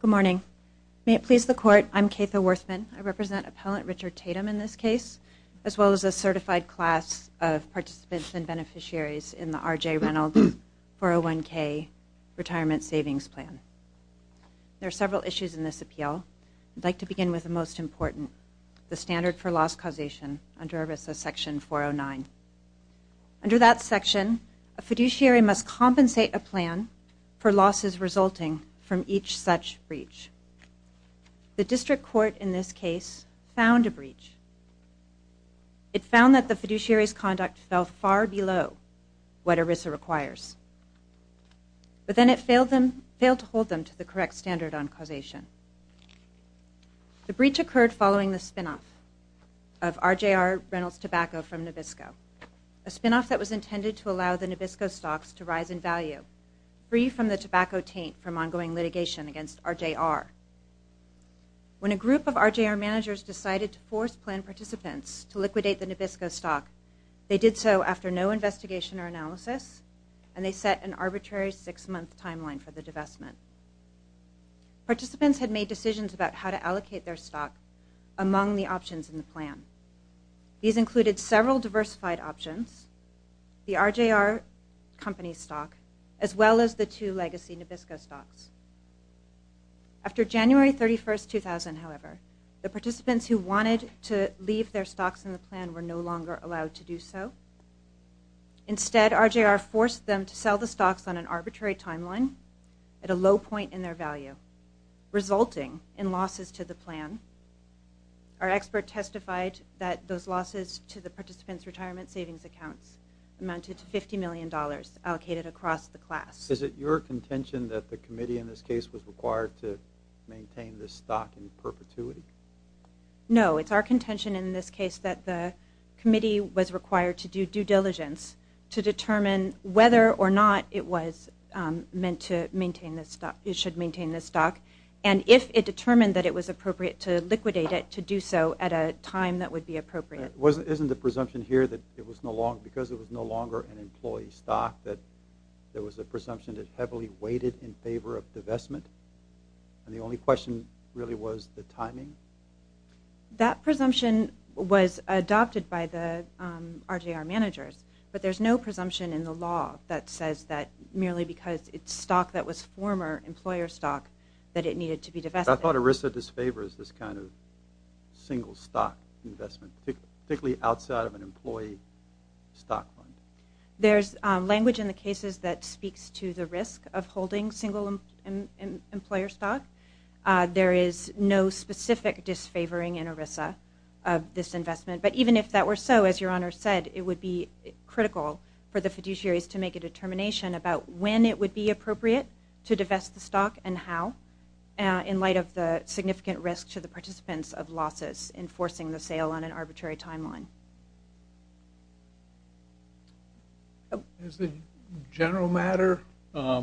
Good morning. May it please the Court, I'm Kefa Werthmann. I represent Appellant Richard Tatum in this case, as well as a certified class of participants and beneficiaries in the RJ Reynolds 401k Retirement Savings Plan. There are several issues in this appeal. I'd like to begin with the most important, the standard for loss causation under Arbith of Section 409. Under that section, a fiduciary must compensate a plan for losses resulting from each such breach. The district court in this case found a breach. It found that the fiduciary's conduct fell far below what ERISA requires. But then it failed to hold them to the correct standard on causation. The breach occurred following the spin-off of RJR Reynolds Tobacco from Nabisco, a spin-off that was intended to allow the Nabisco stocks to rise in value, free from the tobacco taint from ongoing litigation against RJR. When a group of RJR managers decided to force plan participants to liquidate the Nabisco stocks, they did so after no investigation or analysis, and they set an arbitrary six-month timeline for the divestment. Participants had made decisions about how to allocate their stocks among the options in the plan. These included several diversified options, the RJR company stocks, as well as the two legacy Nabisco stocks. After January 31, 2000, however, the participants who wanted to leave their stocks in the plan were no longer allowed to do so. Instead, RJR forced them to sell the stocks on an arbitrary timeline at a low point in their value, resulting in losses to the plan. Our expert testified that those losses to the participants' retirement savings accounts amounted to $50 million allocated across the class. Is it your contention that the committee in this case was required to maintain this stock in perpetuity? No, it's our contention in this case that the committee was required to do due diligence to determine whether or not it was meant to maintain this stock. It should maintain this stock, and if it determined that it was appropriate to liquidate it, to do so at a time that would be appropriate. Isn't the presumption here that because it was no longer an employee stock that there was a presumption that heavily weighted in favor of divestment? The only question really was the timing? That presumption was adopted by the RJR managers, but there's no presumption in the law that says that merely because it's former employer stock that it needed to be divested. I thought ERISA disfavors this kind of single stock investment, particularly outside of an employee stock. There's language in the cases that speaks to the risk of holding single employer stock. There is no specific disfavoring in ERISA of this investment, but even if that were so, as your Honor said, it would be critical for the fiduciaries to make a determination about when it would be appropriate to divest the stock and how in light of the significant risk to the participants of losses enforcing the sale on an arbitrary timeline. As a general matter, a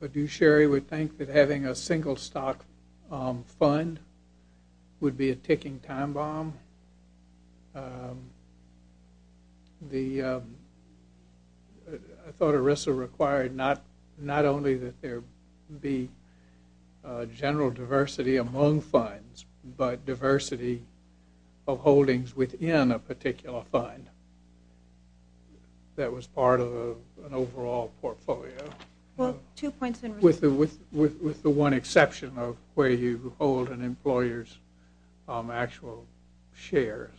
fiduciary would think that having a single stock fund would be a good idea. I thought ERISA required not only that there be general diversity among funds, but diversity of holdings within a particular fund that was part of an overall portfolio with the one exception of where you hold an employer's actual shares.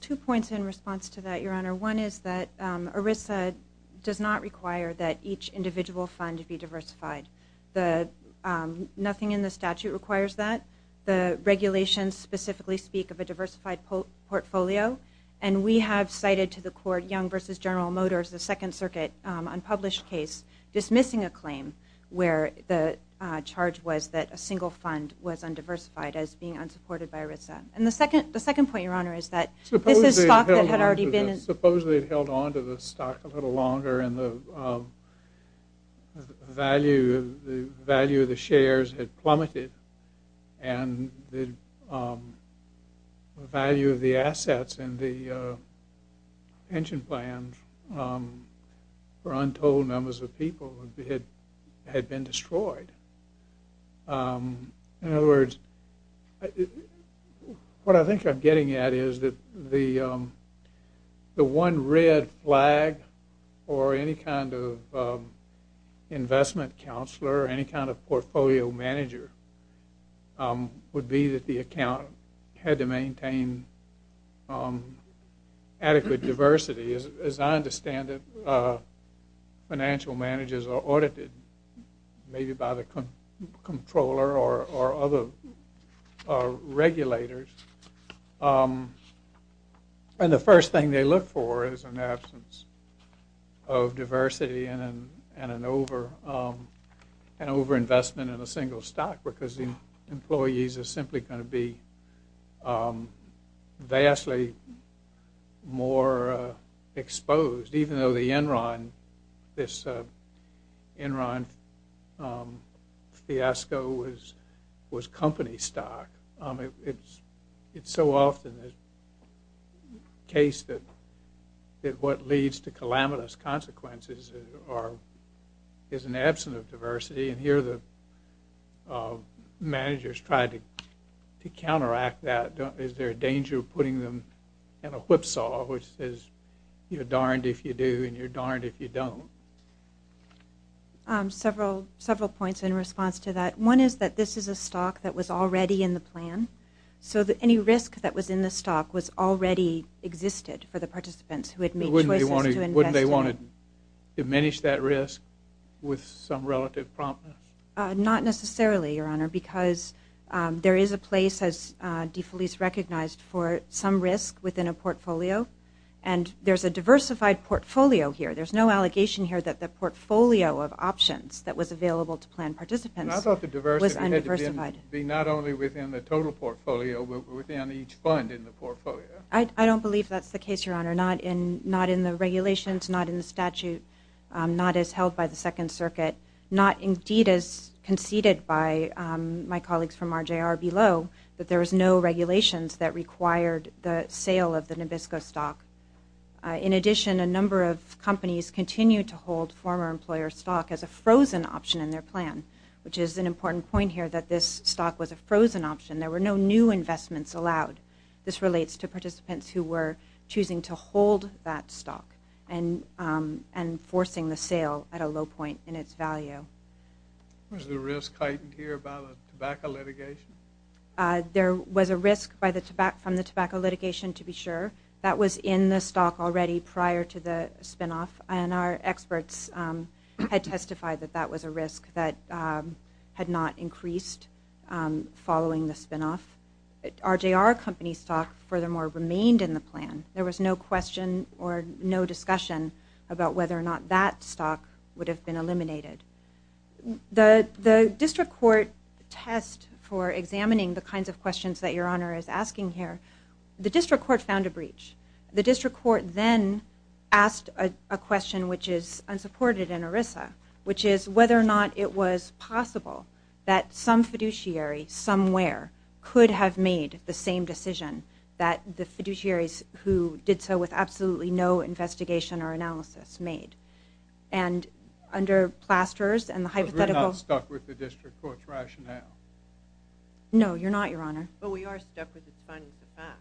Two points in response to that, your Honor. One is that ERISA does not require that each individual fund be diversified. Nothing in the statute requires that. The regulations specifically speak of a diversified portfolio. We have cited to the court Young v. General Motors, the Second Circuit, unpublished case dismissing a claim where the charge was that a single fund was undiversified as being unsupported by ERISA. The second point, your Honor, is that this is stock that had already been... Supposedly it held on to the stock a little longer and the value of the shares had plummeted and the value of the assets in the pension plan for untold numbers of people had been destroyed. In other words, what I think I'm getting at is that the one red flag for any kind of investment counselor, any kind of portfolio manager, would be that the account had to maintain adequate diversity. As I understand it, financial managers are audited by the controller or other regulators and the first thing they look for is an absence of diversity and an overinvestment in a single stock because the employees are simply going to be vastly more exposed even though the Enron fiasco was company stock. It's so often the case that what leads to calamitous consequences is an absence of diversity and here the managers try to counteract that. Is there a danger of putting them in a whipsaw which says you're darned if you do and you're darned if you don't. Several points in response to that. One is that this is a stock that was already in the plan so that any risk that was in the stock was already existed for the participants who had made choices to invest in it. Wouldn't they want to diminish that risk with some relative promptness? Not necessarily, Your Honor, because there is a place as DeFelice recognized for some risk within a portfolio and there's a diversified portfolio here. There's no allegation here that the portfolio of options that was available to plan participants was undiversified. I thought the diversity had to be not only within the total portfolio but within each fund in the portfolio. I don't believe that's the case, Your Honor. Not in the regulations, not in the statute, not as held by the Second Circuit, not indeed as conceded by my colleagues from RJR below that there was no regulations that required the sale of the Nabisco stock. In addition, a number of companies continued to hold former employer stock as a frozen option in their plan, which is an important point here that this stock was a frozen option. There were no new investments allowed. This relates to participants who were choosing to hold that stock and forcing the sale at a low point in its value. Was the risk heightened here by the tobacco litigation? There was a risk from the tobacco litigation, to be sure. That was in the stock already prior to the spinoff, and our experts had testified that that was a risk that had not increased following the spinoff. RJR Company stock furthermore remained in the plan. There was no question or no discussion about whether or not that stock would have been eliminated. The district court test for examining the kinds of questions that Your Honor is asking here, the district court found a breach. The district court then asked a question which is unsupported in ERISA, which is whether or not it was possible that some fiduciary somewhere could have made the same decision that the fiduciaries who did so with absolutely no investigation or analysis made. So we're not stuck with the district court's rationale? No, you're not, Your Honor. But we are stuck with the findings of fact.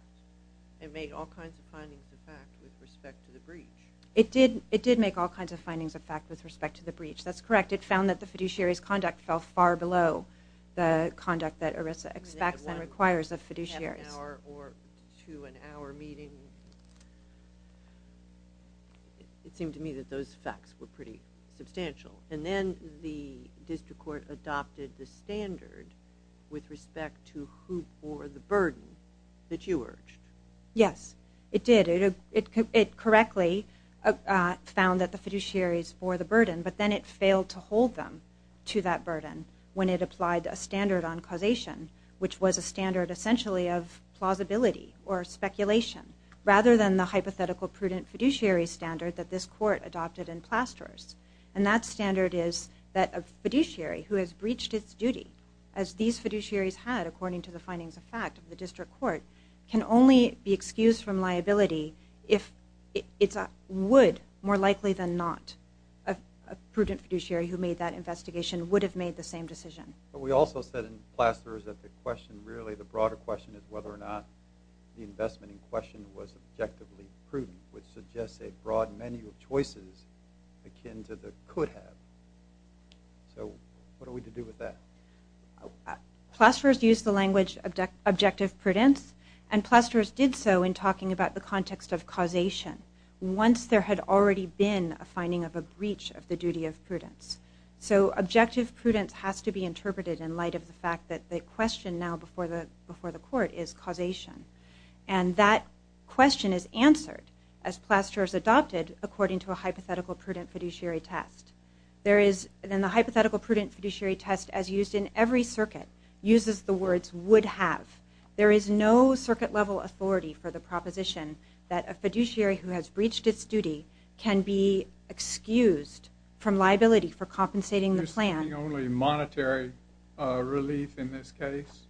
It made all kinds of findings of fact with respect to the breach. It did make all kinds of findings of fact with respect to the breach. That's correct. It found that the fiduciary's conduct fell far below the conduct that ERISA expects and requires of fiduciaries. To an hour meeting, it seemed to me that those facts were pretty substantial. And then the district court adopted the standard with respect to who bore the burden that you urged. Yes, it did. It correctly found that the fiduciaries bore the burden, but then it failed to hold them to that burden when it applied a standard on causation, which was a standard essentially of plausibility or speculation, rather than the hypothetical prudent fiduciary standard that this court adopted in Plasters. And that standard is that a fiduciary who has breached its duty, as these fiduciaries had according to the findings of fact of the district court, can only be excused from liability if it would, more likely than not, a prudent fiduciary who made that investigation would have made the same decision. But we also said in Plasters that the question, really the broader question, is whether or not the investment in question was objectively prudent, which suggests a broad menu of choices akin to the could have. So what are we to do with that? Plasters used the language objective prudence, and Plasters did so in talking about the context of causation, once there had already been a finding of a breach of the duty of prudence. So objective prudence has to be interpreted in light of the fact that the question now before the court is causation. And that question is answered as Plasters adopted according to a hypothetical prudent fiduciary test. There is, and the hypothetical prudent fiduciary test as used in every circuit uses the words would have. There is no circuit level authority for the proposition that a fiduciary who has breached its duty can be excused from liability for compensating the plan. This is the only monetary relief in this case.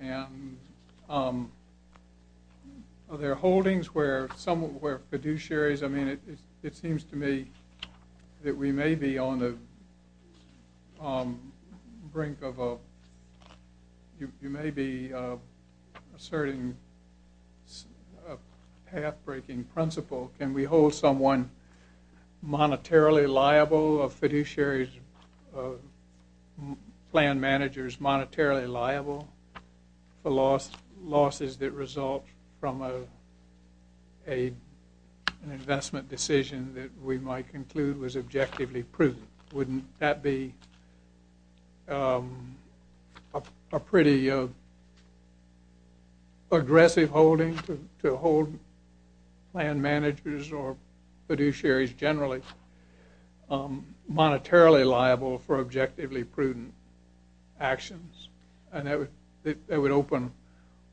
And there are holdings where fiduciaries, I mean, it seems to me that we may be on the brink of a, you may be asserting a half-breaking principle. Can we hold someone monetarily liable, a fiduciary's plan manager is monetarily liable for losses that result from an investment decision that we might conclude was objectively prudent? Wouldn't that be a pretty aggressive holding to hold plan managers or fiduciaries generally monetarily liable for objectively prudent actions? And that would open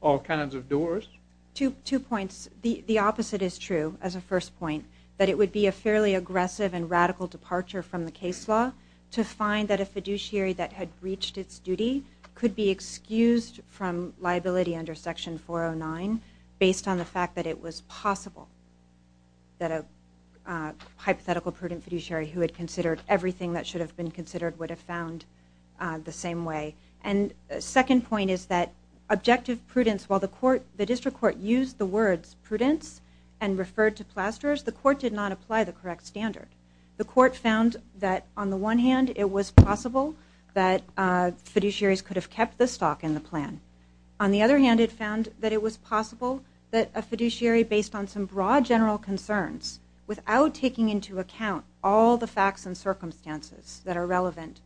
all kinds of doors? Two points. The opposite is true as a first point, that it would be a fairly aggressive and radical departure from the case law to find that a fiduciary that had breached its duty could be excused from liability under section 409 based on the fact that it was possible that a hypothetical prudent fiduciary who had considered everything that should have been considered would have found the same way. And a second point is that objective prudence, while the court, the district court used the words prudence and referred to plasterers, the court did not apply the correct standard. The court found that on the one hand it was possible that fiduciaries could have kept the stock in the plan. On the other hand, it found that it was possible that a fiduciary based on some broad general concerns, without taking into account all the facts and circumstances that are relevant,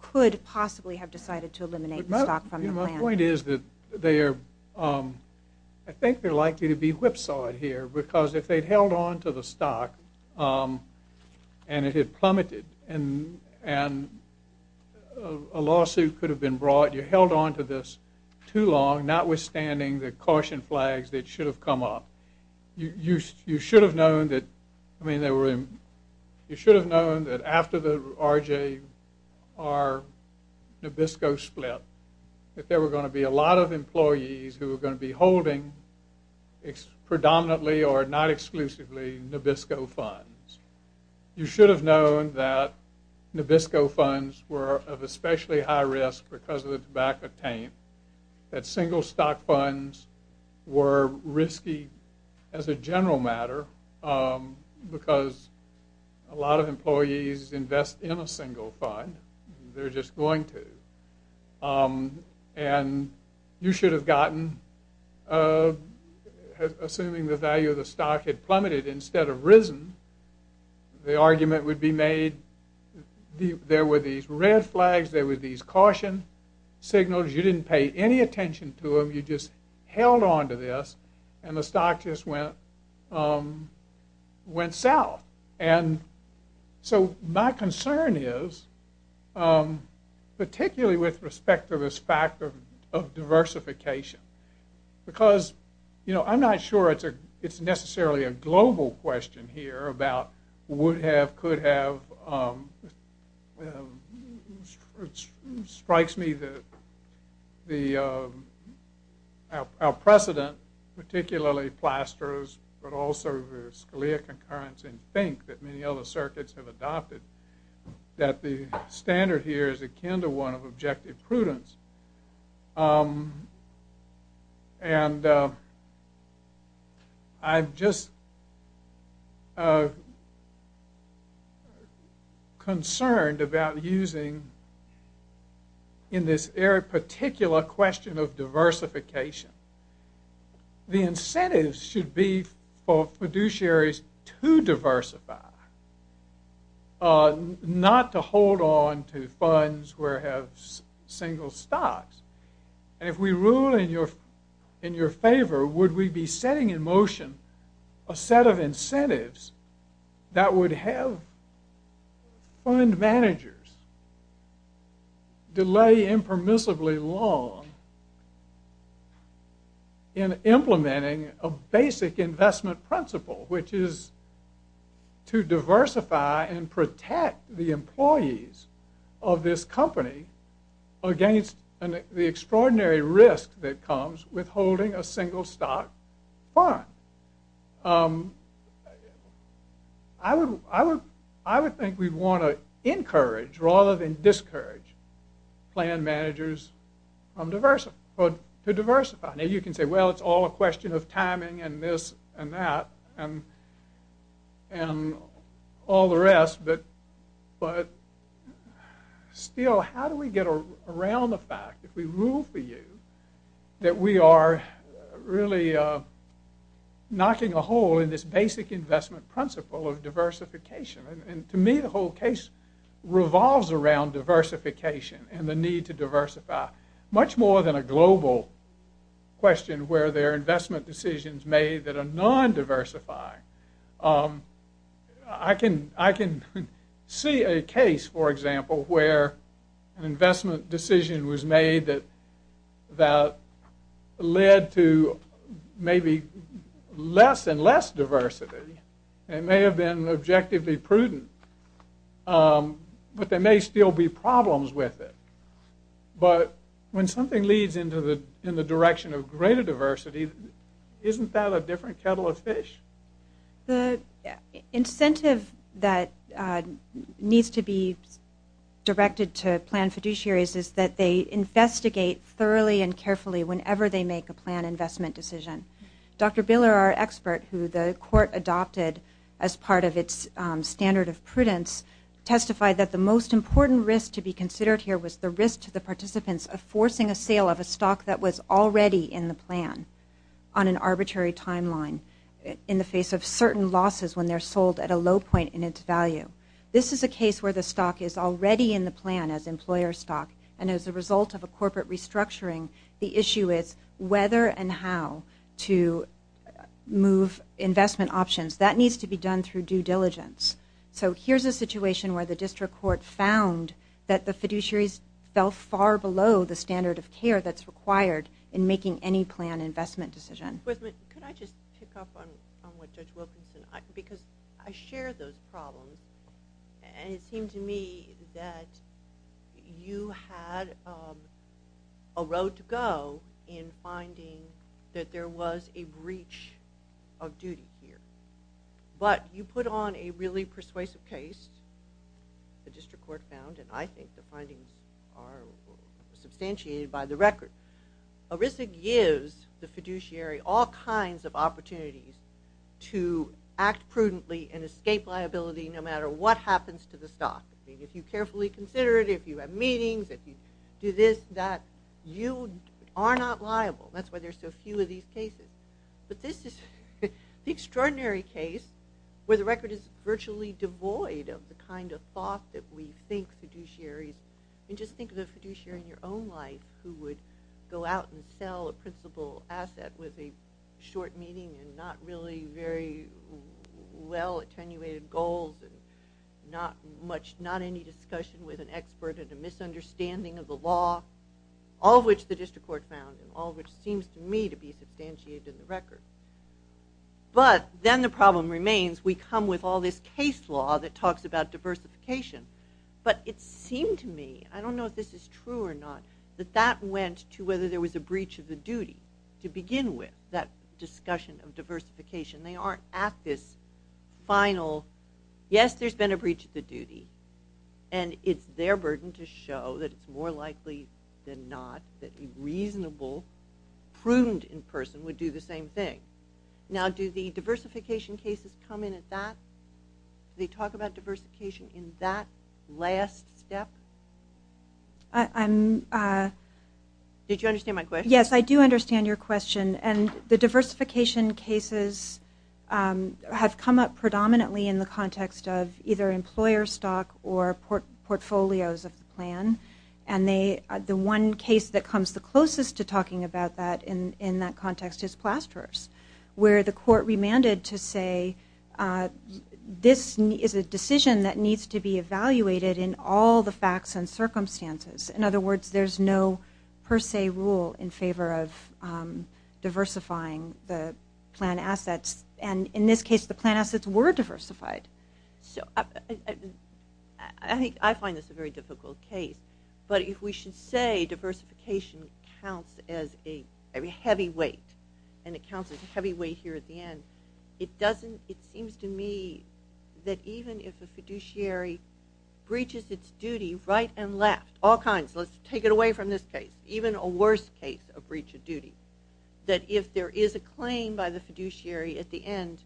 could possibly have decided to eliminate the stock from the plan. My point is that they are, I think they're likely to be whipsawed here because if they held on to the stock and it had plummeted and a lawsuit could have been brought, you held on to this too long, notwithstanding the caution flags that should have come up. You should have known that after the RJR Nabisco split that there were going to be a lot of employees who were going to be holding predominantly or not exclusively Nabisco funds. You should have known that Nabisco funds were of especially high risk because of the tobacco taint, that single stock funds were risky as a general matter because a lot of employees invest in a single fund, they're just going to. And you should have gotten, assuming the value of the stock had plummeted instead of risen, the argument would be made, there were these red flags, there were these caution signals, you didn't pay any attention to them, you just held on to this and the stock just went south. And so my concern is, particularly with respect to this fact of diversification, because I'm not sure it's necessarily a global question here about would have, could have, it strikes me that our precedent, particularly Plaster's but also the Scalia concurrence in Fink that many other circuits have adopted, that the standard here is akin to one of objective prudence. And I'm just concerned about using, in this particular question of diversification, the incentives should be for fiduciaries to diversify, not to hold on to funds where it has single stocks. If we rule in your favor, would we be setting in motion a set of incentives that would have fund managers delay impermissibly long in implementing a basic investment principle, which is to diversify and protect the employees of this company against the extraordinary risk that comes with holding a single stock fund. I would think we'd want to encourage rather than discourage plan managers to diversify. Now you can say well it's all a question of timing and this and that and all the rest, but still how do we get around the fact, if we rule for you, that we are really knocking a hole in this basic investment principle of diversification. And to me the whole case revolves around diversification and the need to diversify, much more than a global question where there are investment decisions made that are non-diversifying. I can see a case, for example, where an investment decision was made that led to maybe less and less diversity and may have been objectively prudent, but there may still be problems with it. But when something leads in the direction of greater diversity, isn't that a different kettle of fish? The incentive that needs to be directed to plan fiduciaries is that they investigate thoroughly and carefully whenever they make a plan investment decision. Dr. Biller, our expert, who the court adopted as part of its standard of prudence, testified that the most important risk to be considered here was the risk to the participants of forcing a sale of a stock that was already in the plan on an arbitrary timeline in the face of certain losses when they're sold at a low point in its value. This is a case where the stock is already in the plan as employer stock and as a result of a corporate restructuring, the issue is whether and how to move investment options. That needs to be done through due diligence. So here's a situation where the district court found that the fiduciaries fell far below the standard of care that's required in making any plan investment decision. Could I just pick up on what Judge Wilkinson said? Because I share those problems and it seems to me that you had a road to go in finding that there was a breach of duty here. But you put on a really persuasive case, the district court found, and I think the findings are substantiated by the record. A risk gives the fiduciary all kinds of opportunities to act prudently and escape liability no matter what happens to the stock. If you carefully consider it, if you have meetings, if you do this, that, you are not liable. That's why there's so few of these cases. But this is an extraordinary case where the record is virtually devoid of the kind of thought that we think fiduciaries, and just think of a fiduciary in your own life who would go out and sell a principal asset with a short meeting and not really very well attenuated goals and not any discussion with an expert of the misunderstanding of the law, all of which the district court found, all of which seems to me to be substantiated in the record. But then the problem remains. We come with all this case law that talks about diversification. But it seemed to me, I don't know if this is true or not, that that went to whether there was a breach of the duty to begin with, that discussion of diversification. They aren't active, final, yes, there's been a breach of the duty. And it's their burden to show that it's more likely than not that a reasonable, prudent in person would do the same thing. Now, do the diversification cases come in at that, do they talk about diversification in that last step? Did you understand my question? Yes, I do understand your question. And the diversification cases have come up predominantly in the context of either employer stock or portfolios of the plan. And the one case that comes the closest to talking about that in that context is Plasterers, where the court remanded to say this is a decision that needs to be evaluated in all the facts and circumstances. In other words, there's no per se rule in favor of diversifying the plan assets. And in this case, the plan assets were diversified. I find this a very difficult case, but if we should say diversification counts as a heavy weight and it counts as a heavy weight here at the end, it doesn't, it seems to me that even if the fiduciary breaches its duty right and left, all kinds, let's take it away from this case, even a worse case of breach of duty, that if there is a claim by the fiduciary at the end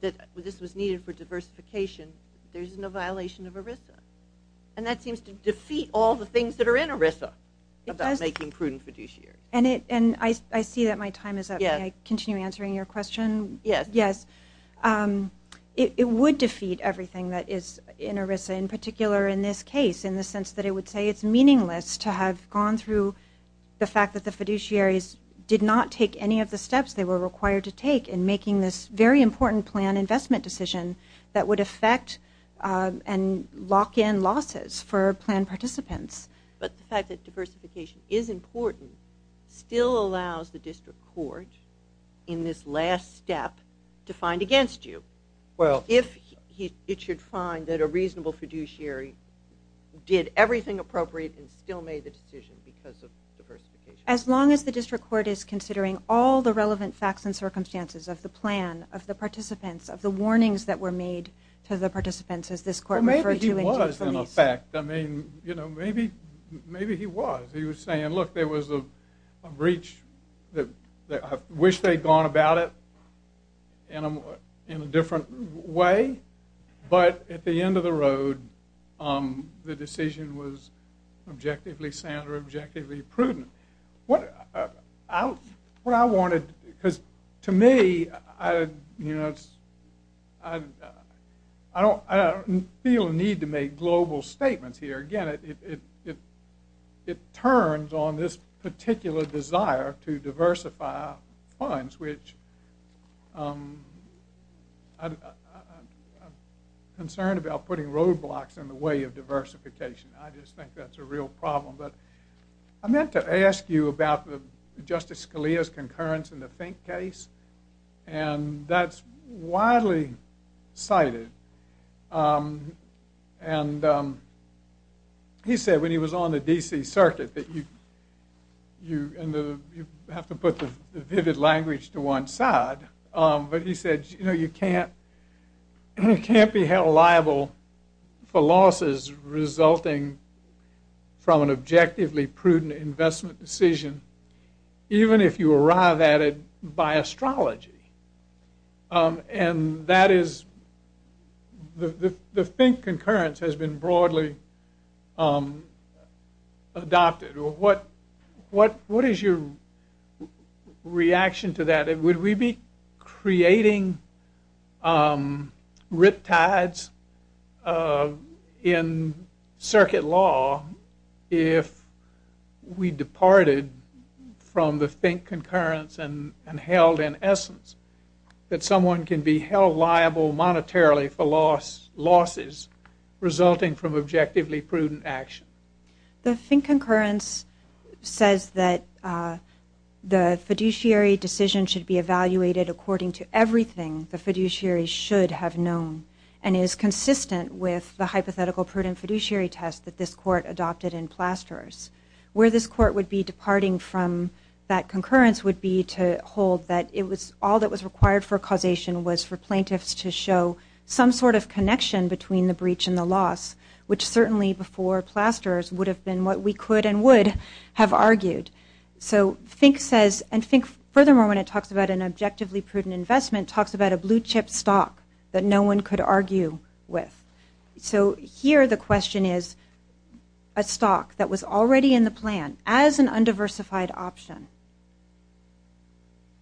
that this was needed for diversification, there's no violation of ERISA. And that seems to defeat all the things that are in ERISA about making prudent fiduciary. And I see that my time is up. Can I continue answering your question? Yes. It would defeat everything that is in ERISA, in particular in this case, in the sense that it would say it's meaningless to have gone through the fact that the fiduciaries did not take any of the steps they were required to take in making this very important plan investment decision that would affect and lock in losses for plan participants. But the fact that diversification is important still allows the district court in this last step to find against you. If it should find that a reasonable fiduciary did everything appropriate and still made the decision because of diversification. As long as the district court is considering all the relevant facts and circumstances of the plan, of the participants, of the warnings that were made to the participants, Well, maybe he was in effect. I mean, you know, maybe he was. He was saying, look, there was a breach that I wish they'd gone about it in a different way. But at the end of the road, the decision was objectively sound or objectively prudent. What I wanted, because to me, I don't feel the need to make global statements here. Again, it turns on this particular desire to diversify funds, which I'm concerned about putting roadblocks in the way of diversification. I just think that's a real problem. But I meant to ask you about Justice Scalia's concurrence in the Fink case. And that's widely cited. And he said when he was on the D.C. Circuit that you have to put the vivid language to one side. But he said, you know, you can't be held liable for losses resulting from an objectively prudent investment decision, even if you arrive at it by astrology. And that is, the Fink concurrence has been broadly adopted. What is your reaction to that? Would we be creating riptides in circuit law if we departed from the Fink concurrence and held in essence that someone can be held liable monetarily for losses resulting from objectively prudent action? The Fink concurrence says that the fiduciary decision should be evaluated according to everything the fiduciary should have known and is consistent with the hypothetical prudent fiduciary test that this court adopted in Plasterers. Where this court would be departing from that concurrence would be to hold that all that was required for causation was for plaintiffs to show some sort of connection between the breach and the loss, which certainly before Plasterers would have been what we could and would have argued. So Fink says, and Fink furthermore when it talks about an objectively prudent investment, talks about a blue-chip stock that no one could argue with. So here the question is, a stock that was already in the plan as an undiversified option,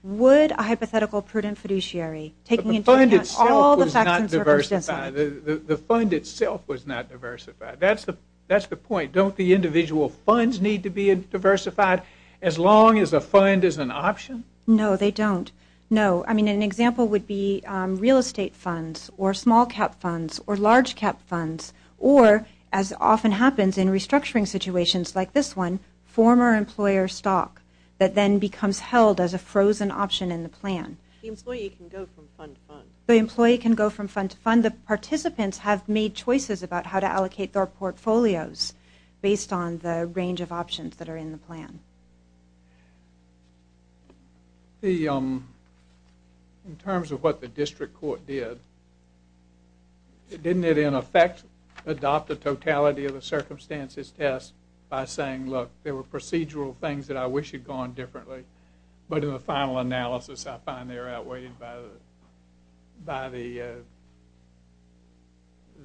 would a hypothetical prudent fiduciary take into account all the factors that were concerned? The fund itself was not diversified. That's the point. Don't the individual funds need to be diversified as long as a fund is an option? No, they don't. No. I mean an example would be real estate funds or small cap funds or large cap funds or as often happens in restructuring situations like this one, former employer stock that then becomes held as a frozen option in the plan. The employee can go from fund to fund. The employee can go from fund to fund. The participants have made choices about how to allocate their portfolios based on the range of options that are in the plan. In terms of what the district court did, didn't it in effect adopt the totality of a circumstances test by saying, look, there were procedural things that I wish had gone differently, but in the final analysis I find they're outweighed by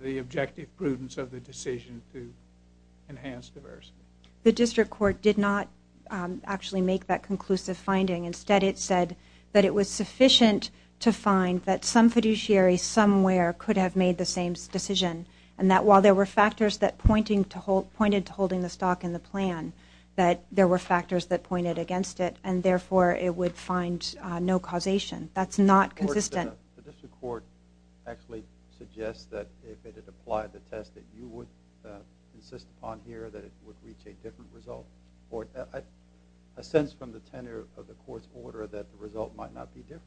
the objective prudence of the decision to enhance diversity? The district court did not actually make that conclusive finding. Instead it said that it was sufficient to find that some fiduciary somewhere could have made the same decision and that while there were factors that pointed to holding the stock in the plan, that there were factors that pointed against it, and therefore it would find no causation. That's not consistent. The district court actually suggests that if it had applied the test that you would insist upon here that it would reach a different result. I sense from the tenor of the court's order that the result might not be different.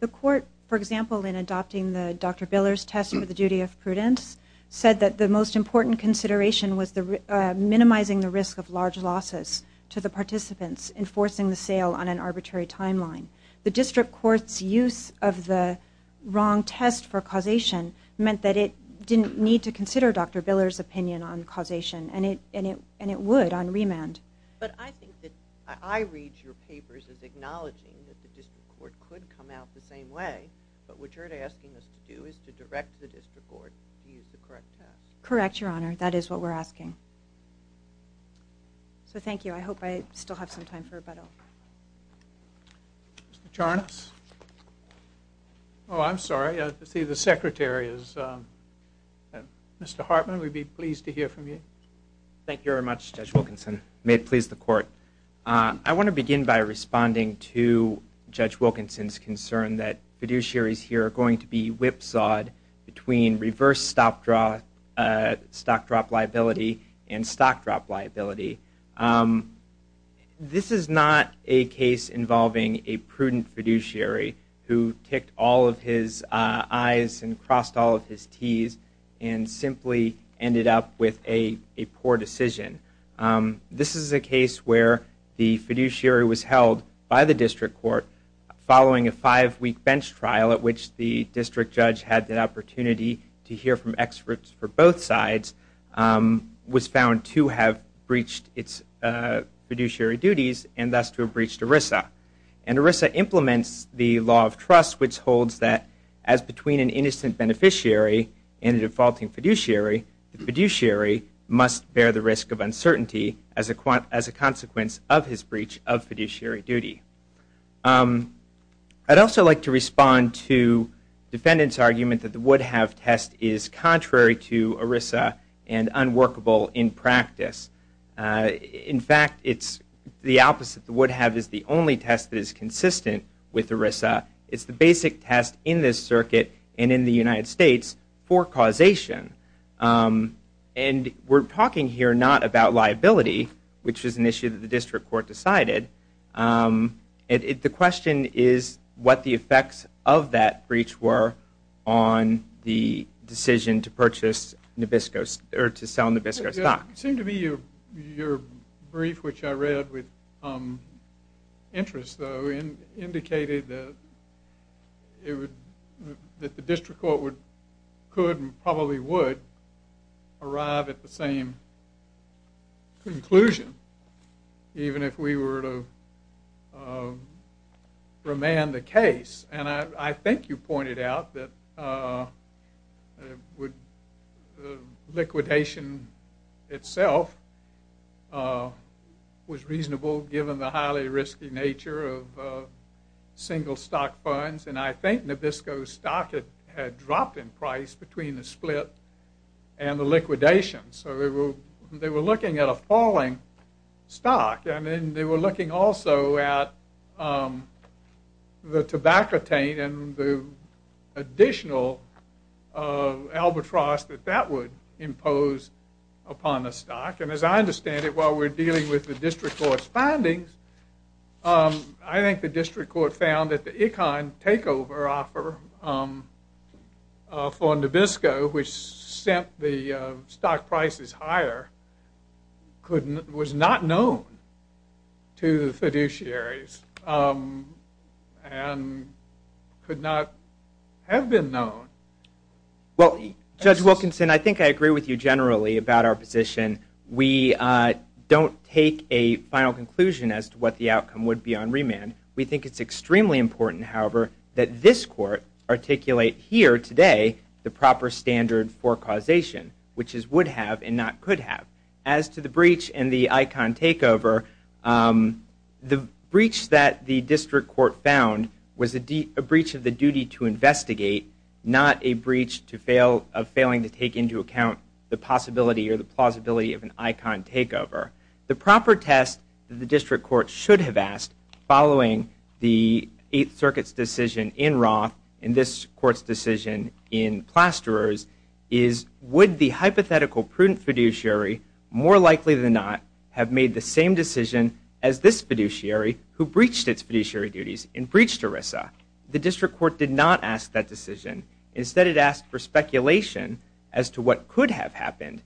The court, for example, in adopting the Dr. Biller's test for the duty of prudence, said that the most important consideration was minimizing the risk of large losses to the participants in forcing the sale on an arbitrary timeline. The district court's use of the wrong test for causation meant that it didn't need to consider Dr. Biller's opinion on causation, and it would on remand. But I think that I read your papers as acknowledging that the district court could come out the same way, but what you're asking us to do is to direct the district court to use the correct test. Correct, Your Honor. That is what we're asking. So thank you. I hope I still have some time for rebuttal. Mr. Charnas? Oh, I'm sorry. I see the secretary is Mr. Hartman. We'd be pleased to hear from you. Thank you very much, Judge Wilkinson. May it please the court. I want to begin by responding to Judge Wilkinson's concern that fiduciaries here are going to be whipsawed between reverse stock drop liability and stock drop liability. This is not a case involving a prudent fiduciary who kicked all of his I's and crossed all of his T's and simply ended up with a poor decision. This is a case where the fiduciary was held by the district court following a five-week bench trial at which the district judge had the opportunity to hear from experts for both sides, was found to have breached its fiduciary duties and thus to have breached ERISA. And ERISA implements the law of trust which holds that as between an innocent beneficiary and a defaulting fiduciary, the fiduciary must bear the risk of uncertainty as a consequence of his breach of fiduciary duty. I'd also like to respond to defendant's argument that the Woodhave test is contrary to ERISA and unworkable in practice. In fact, it's the opposite. The Woodhave is the only test that is consistent with ERISA. It's the basic test in this circuit and in the United States for causation. And we're talking here not about liability, which is an issue that the district court decided, and the question is what the effects of that breach were on the decision to purchase Nabisco's, or to sell Nabisco's stock. It seemed to me your brief, which I read with interest though, indicated that the district court could and probably would arrive at the same conclusion even if we were to remand the case. And I think you pointed out that liquidation itself was reasonable given the highly risky nature of single stock funds, and I think Nabisco's stock had dropped in price between the split and the liquidation. So they were looking at a falling stock. I mean, they were looking also at the tobacco taint and the additional albatross that that would impose upon the stock. And as I understand it, while we're dealing with the district court's findings, I think the district court found that the Econ takeover offer for Nabisco, which set the stock prices higher, was not known to the fiduciaries and could not have been known. Well, Judge Wilkinson, I think I agree with you generally about our position. We don't take a final conclusion as to what the outcome would be on remand. We think it's extremely important, however, that this court articulate here today the proper standard for causation, which is would have and not could have. As to the breach in the Econ takeover, the breach that the district court found was a breach of the duty to investigate, not a breach of failing to take into account the possibility or the plausibility of an Econ takeover. The proper test the district court should have asked following the Eighth Circuit's decision in Roth and this court's decision in Plasterer's is, would the hypothetical prudent fiduciary more likely than not have made the same decision as this fiduciary who breached its fiduciary duties and breached ERISA? The district court did not ask that decision. Instead, it asked for speculation as to what could have happened.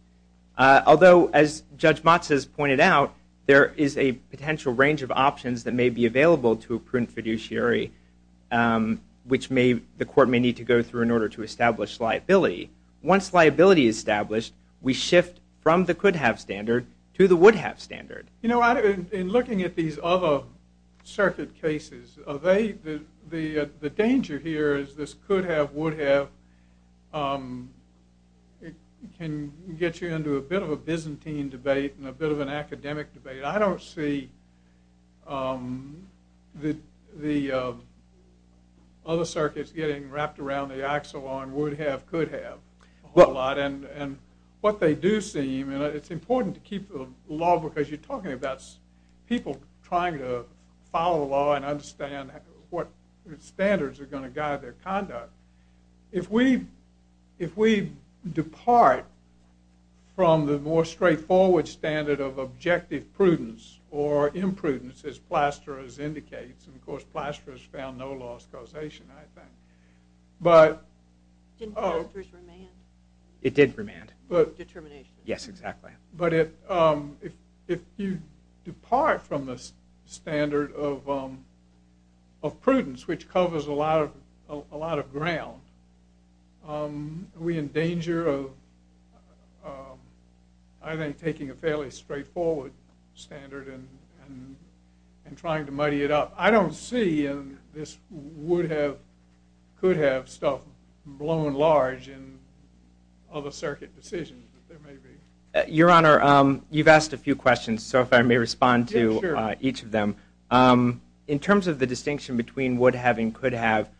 Although, as Judge Matsa has pointed out, there is a potential range of options that may be available to a prudent fiduciary, which the court may need to go through in order to establish liability. Once liability is established, we shift from the could have standard to the would have standard. You know, in looking at these other circuit cases, the danger here is this could have, would have can get you into a bit of a Byzantine debate and a bit of an academic debate. I don't see the other circuits getting wrapped around the axiom on would have, could have a lot. And what they do see, I mean, it's important to keep the law, because you're talking about people trying to follow the law and understand what standards are going to guide their conduct. If we, if we depart from the more straightforward standard of objective prudence or imprudence as Plasterer's indicates, and of course, Plasterer's found no lost causation, I think, but... Didn't Plasterer's remand? It did remand. Determination. Yes, exactly. But if you depart from the standard of prudence, which covers a lot of ground, we're in danger of, I think, taking a fairly straightforward standard and trying to muddy it up. I don't see in this would have, could have stuff blown large in other circuit decisions. Your Honor, you've asked a few questions, so if I may respond to each of them. In terms of the distinction between would have and could have,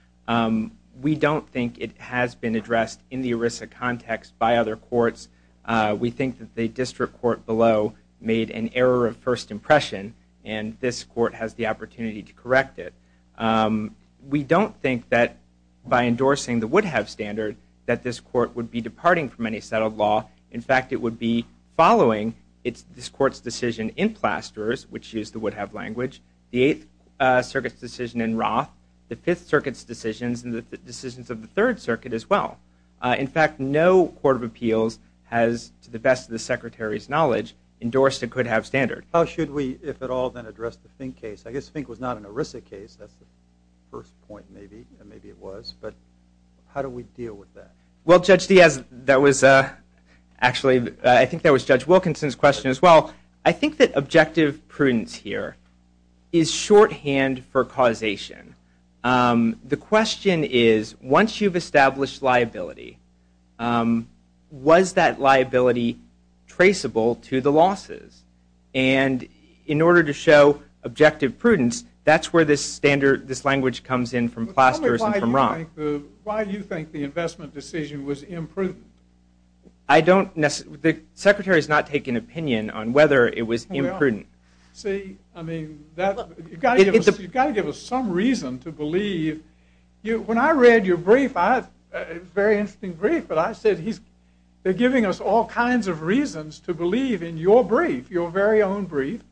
we don't think it has been addressed in the ERISA context by other courts. We think that the district court below made an error of first impression, and this court has the opportunity to correct it. We don't think that by endorsing the would have standard, that this court would be departing from any settled law. In fact, it would be following this court's decision in Plasterer's, which used the would have language, the Eighth Circuit's decision in Roth, the Fifth Circuit's decisions, and the decisions of the Third Circuit as well. In fact, no court of appeals has, to the best of the Secretary's knowledge, endorsed a could have standard. How should we, if at all, then address the Fink case? I guess Fink was not an ERISA case. That's the first point maybe it was, but how do we deal with that? Well, Judge, that was actually, I think that was Judge Wilkinson's question as well. I think that objective prudence here is shorthand for causation. The question is, once you've established liability, was that liability traceable to the losses? And in order to show objective prudence, that's where this language comes in from Plasterer's and from Roth. Why do you think the investment decision was imprudent? The Secretary's not taking an opinion on whether it was imprudent. See, I mean, you've got to give us some reason to believe. When I read your brief, it was a very interesting brief, but I said they're giving us all kinds of reasons to believe in your brief, your very own brief,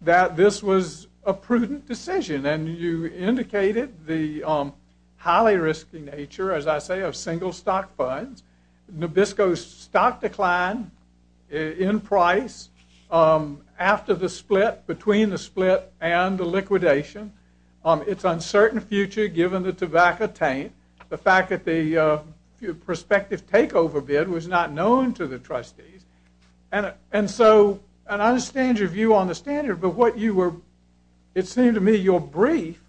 that this was a prudent decision. And you indicated the highly risky nature, as I say, of single stock funds. Nabisco's stock declined in price after the split, between the split and the liquidation. It's uncertain future given the tobacco taint. The fact that the prospective takeover bid was not known to the trustees. And so I understand your view on the standard, but what you were, it seemed to me, your brief,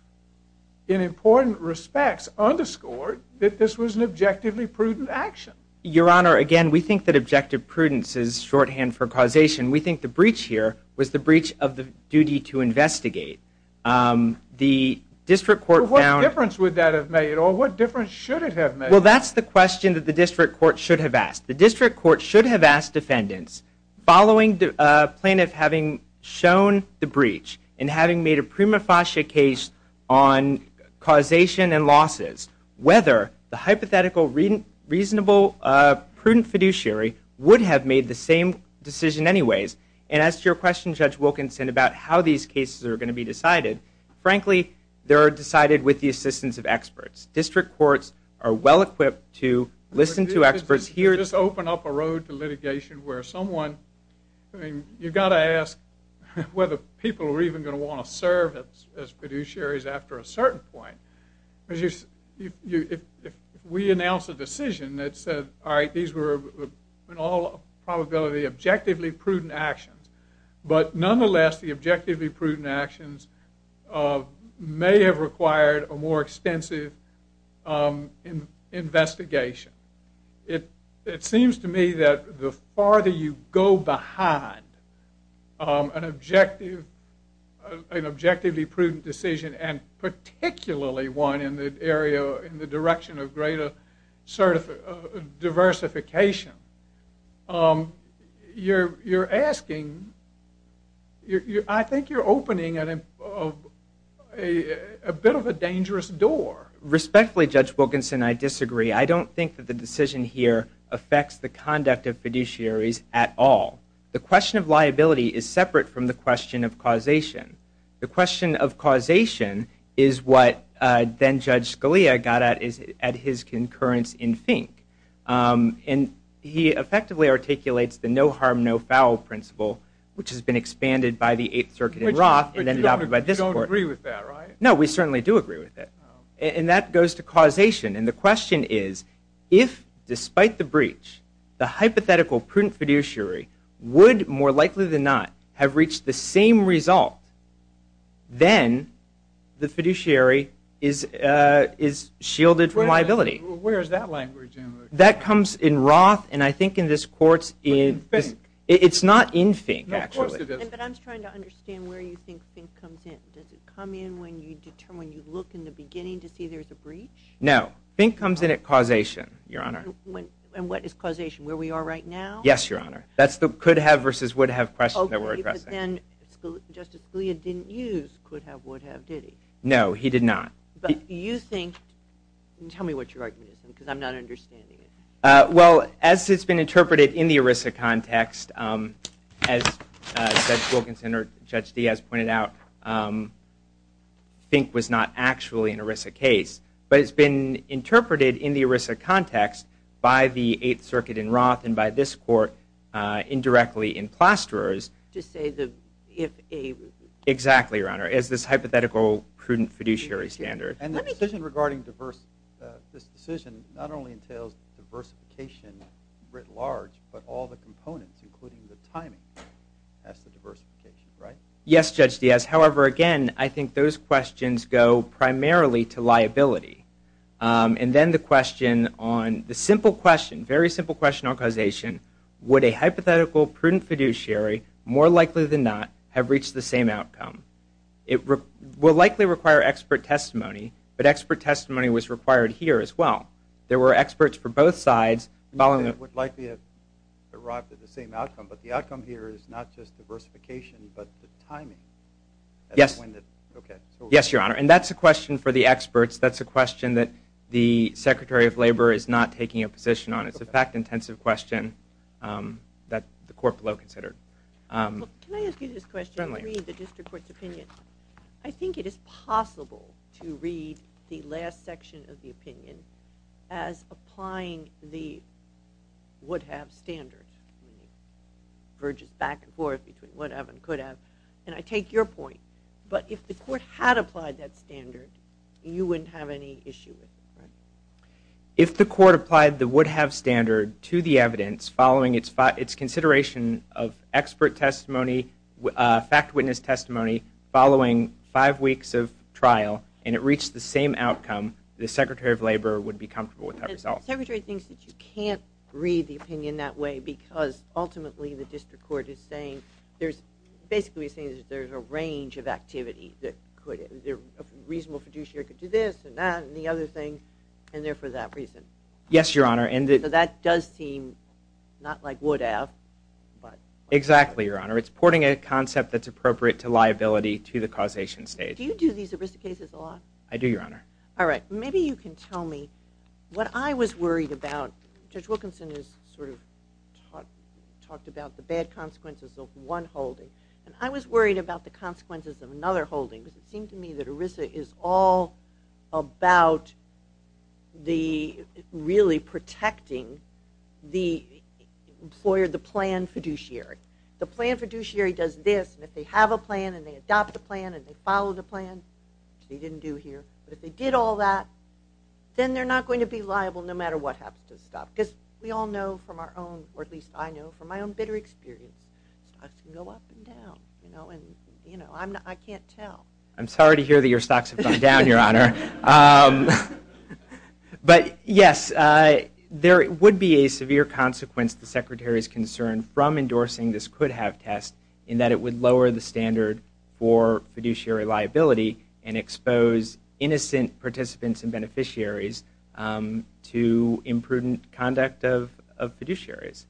in important respects, underscored that this was an objectively prudent action. Your Honor, again, we think that objective prudence is shorthand for causation. We think the breach here was the breach of the duty to investigate. What difference would that have made, or what difference should it have made? Well, that's the question that the district court should have asked. The district court should have asked defendants, following plaintiff having shown the breach and having made a prima facie case on causation and losses, whether the hypothetical reasonable prudent fiduciary would have made the same decision anyways, and as to your question, Judge Wilkinson, about how these cases are going to be decided, frankly, they are decided with the assistance of experts. District courts are well-equipped to listen to experts here. You just opened up a road to litigation where someone, I mean, you've got to ask whether people are even going to want to serve as fiduciaries after a certain point. We announced a decision that said, all right, these were in all probability objectively prudent actions, but nonetheless, the objectively prudent actions may have required a more extensive investigation. It seems to me that the farther you go behind an objectively prudent decision, and particularly one in the direction of greater diversification, you're asking, I think you're opening a bit of a dangerous door. Respectfully, Judge Wilkinson, I disagree. I don't think that the decision here affects the conduct of fiduciaries at all. The question of liability is separate from the question of causation. The question of causation is what then-Judge Scalia got at his concurrence in Fink. And he effectively articulates the no harm, no foul principle, which has been expanded by the Eighth Circuit in Roth and then adopted by this court. You don't agree with that, right? No, we certainly do agree with that. And that goes to causation. And the question is, if, despite the breach, the hypothetical prudent fiduciary would, more likely than not, have reached the same result, then the fiduciary is shielded from liability. Where is that language? That comes in Roth, and I think in this court, it's not in Fink, actually. But I'm trying to understand where you think Fink comes in. Does it come in when you determine, when you look in the beginning to see there's a breach? No. Fink comes in at causation, Your Honor. And what is causation, where we are right now? Yes, Your Honor. That's the could have versus would have question that we're addressing. Okay, but then Justice Scalia didn't use could have, would have, did he? No, he did not. But do you think, tell me what your argument is, because I'm not understanding it. Well, as it's been interpreted in the ERISA context, as Judge Wilkinson or Judge Diaz pointed out, Fink was not actually an ERISA case. But it's been interpreted in the ERISA context by the Eighth Circuit in Roth and by this court indirectly in Plasterers. To say that if a- Exactly, Your Honor. It's this hypothetical prudent fiduciary standard. And the decision regarding this decision not only entails diversification writ large, but all the components, including the timing of the diversification, right? Yes, Judge Diaz. However, again, I think those questions go primarily to liability. And then the question on the simple question, very simple question on causation, would a hypothetical prudent fiduciary, more likely than not, have reached the same outcome? It will likely require expert testimony, but expert testimony was required here as well. There were experts for both sides. It would likely have arrived at the same outcome, but the outcome here is not just diversification, but the timing. Yes, Your Honor, and that's a question for the experts. That's a question that the Secretary of Labor is not taking a position on. It's a fact-intensive question that the court will have to consider. Let me ask you this question. Certainly. I agree with the district court's opinion. I think it is possible to read the last section of the opinion as applying the would-have standard. It verges back and forth between would-have and could-have, and I take your point. But if the court had applied that standard, you wouldn't have any issue with it? If the court applied the would-have standard to the evidence following its consideration of expert testimony, fact-witness testimony, following five weeks of trial, and it reached the same outcome, the Secretary of Labor would be comfortable with that result. The Secretary thinks that you can't read the opinion that way because, ultimately, the district court is saying there's basically a range of activities. Is there a reasonable producer that could do this and that and the other things, and they're for that reason? Yes, Your Honor. So that does seem not like would-have. Exactly, Your Honor. It's porting a concept that's appropriate to liability to the causation stage. Do you do these at-risk cases a lot? I do, Your Honor. All right. Maybe you can tell me what I was worried about. Judge Wilkinson talked about the bad consequences of one holding, and I was worried about the consequences of another holding. It seemed to me that ERISA is all about really protecting the plan fiduciary. The plan fiduciary does this, and if they have a plan and they adopt a plan and they follow the plan, which we didn't do here, if they did all that, then they're not going to be liable no matter what happens to the stock. Because we all know from our own, or at least I know from my own bitter experience, stocks can go up and down, and I can't tell. I'm sorry to hear that your stocks have gone down, Your Honor. But, yes, there would be a severe consequence to the Secretary's concern from endorsing this could-have test in that it would lower the standard for fiduciary liability and expose innocent participants and beneficiaries to imprudent conduct of fiduciaries.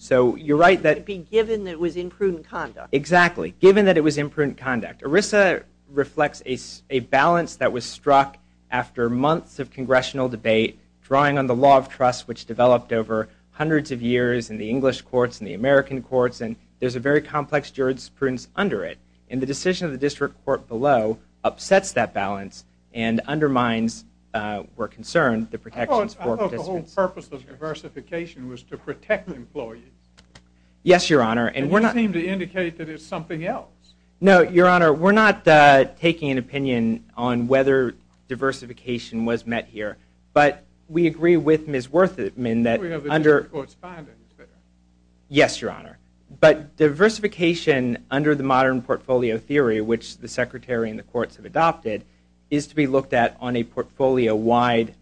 So you're right that- Given that it was imprudent conduct. Exactly. Given that it was imprudent conduct. ERISA reflects a balance that was struck after months of congressional debate, drawing on the law of trust which developed over hundreds of years in the English courts and the American courts, and there's a very complex jurisprudence under it. And the decision of the district court below upsets that balance and undermines, we're concerned, the protections for- I thought the whole purpose of diversification was to protect employees. Yes, Your Honor, and we're not- And you seem to indicate that it's something else. No, Your Honor, we're not taking an opinion on whether diversification was met here, but we agree with Ms. Werthmann that under- We have a district court's finding that- Yes, Your Honor, but diversification under the modern portfolio theory, which the secretary and the courts have adopted, is to be looked at on a portfolio-wide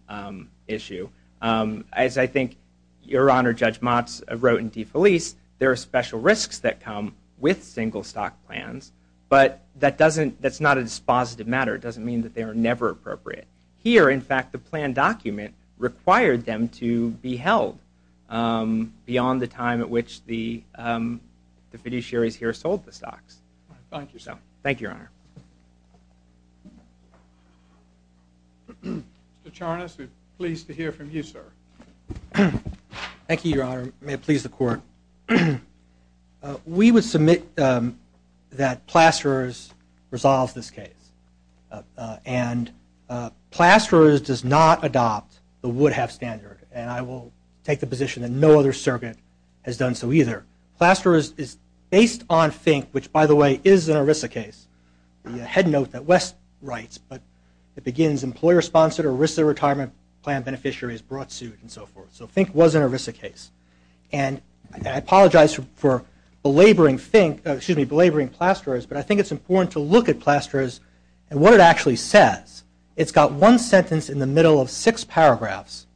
issue. As I think Your Honor, Judge Motz wrote in DeFelice, there are special risks that come with single stock plans, but that doesn't- that's not a dispositive matter. It doesn't mean that they were never appropriate. Here, in fact, the plan document required them to be held beyond the time at which the beneficiaries here sold the stocks. Thank you, Your Honor. Mr. Charnas, we're pleased to hear from you, sir. Thank you, Your Honor. May it please the court. We would submit that Plasterer's resolves this case, and Plasterer's does not adopt the Woodhouse standard, and I will take the position that no other circuit has done so either. Plasterer's is based on FINK, which, by the way, is an ERISA case. You had note that West writes, but it begins, employer sponsored or ERISA retirement plan beneficiaries brought suit, and so forth. So FINK was an ERISA case. And I apologize for belaboring FINK- excuse me, belaboring Plasterer's, but I think it's important to look at Plasterer's and what it actually says. It's got one sentence in the middle of six paragraphs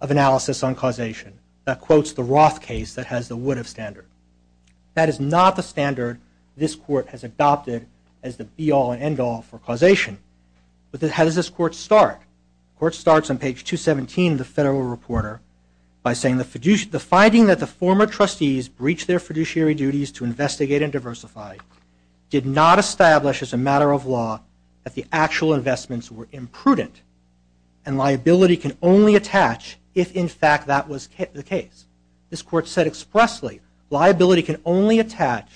of analysis on causation that quotes the Roth case that has the Woodhouse standard. That is not the standard this court has adopted as the be-all and end-all for causation. But how does this court start? The court starts on page 217 of the Federal Reporter by saying, the finding that the former trustees breached their fiduciary duties to investigate and diversify did not establish as a matter of law that the actual investments were imprudent, and liability can only attach if, in fact, that was the case. This court said expressly liability can only attach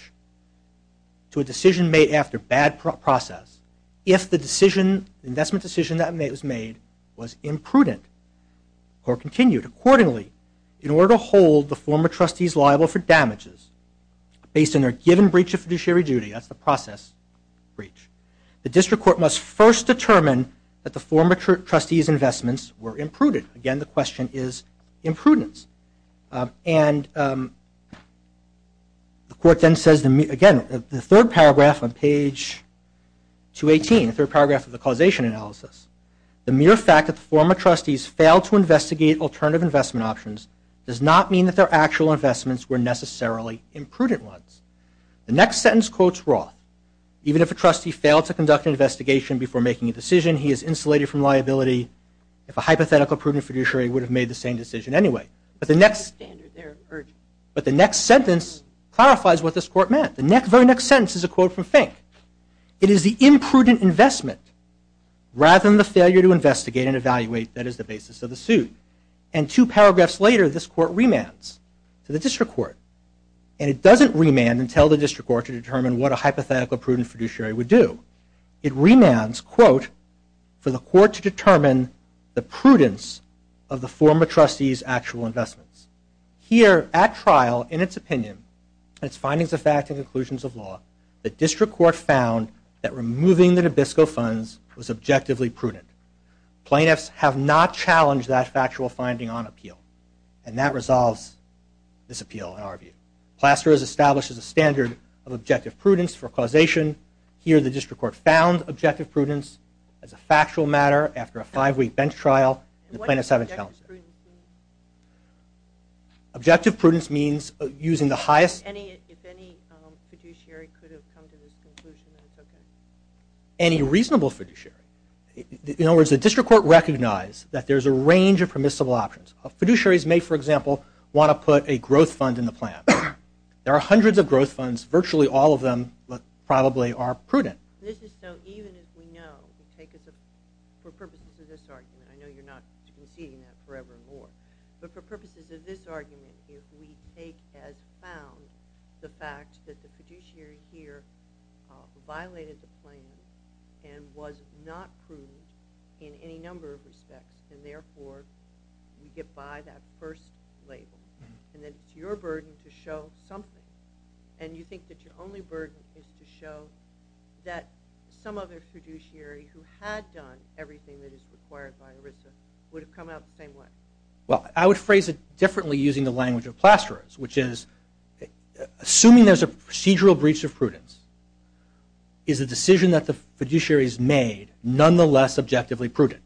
to a decision made after bad process if the investment decision that was made was imprudent or continued accordingly in order to hold the former trustees liable for damages based on their given breach of fiduciary duty, that's the process breach. The district court must first determine that the former trustees' investments were imprudent. Again, the question is imprudence. And the court then says, again, the third paragraph on page 218, the third paragraph of the causation analysis, the mere fact that the former trustees failed to investigate alternative investment options does not mean that their actual investments were necessarily imprudent ones. The next sentence quotes Roth, even if the trustee failed to conduct an investigation before making a decision, he is insulated from liability, if a hypothetical prudent fiduciary would have made the same decision anyway. But the next sentence clarifies what this court meant. The very next sentence is a quote from Fink. It is the imprudent investment rather than the failure to investigate and evaluate that is the basis of the suit. And two paragraphs later, this court remands to the district court. And it doesn't remand and tell the district court to determine what a hypothetical prudent fiduciary would do. It remands, quote, for the court to determine the prudence of the former trustees' actual investments. Here at trial, in its opinion, its findings of fact and conclusions of law, the district court found that removing the Nabisco funds was objectively prudent. Plaintiffs have not challenged that factual finding on appeal. And that resolves this appeal, in our view. Plasser has established a standard of objective prudence for causation. Here, the district court found objective prudence as a factual matter after a five-week bench trial. The plaintiffs haven't challenged it. Objective prudence means using the highest... Any reasonable fiduciary. In other words, the district court recognized that there's a range of permissible options. A fiduciary may, for example, want to put a growth fund in the plan. There are hundreds of growth funds. Virtually all of them probably are prudent. Even as we know, for purposes of this argument, I know you're not going to be repeating that forever and more, but for purposes of this argument, the state has found the fact that the fiduciary here violated the claim and was not prudent in any number of respects. And therefore, you get by that first label. And it's your burden to show something. And you think that your only burden is to show that some other fiduciary who had done everything that is required by ERISA would have come out the same way. Well, I would phrase it differently using the language of Plasterers, which is assuming there's a procedural breach of prudence is a decision that the fiduciary has made nonetheless objectively prudent.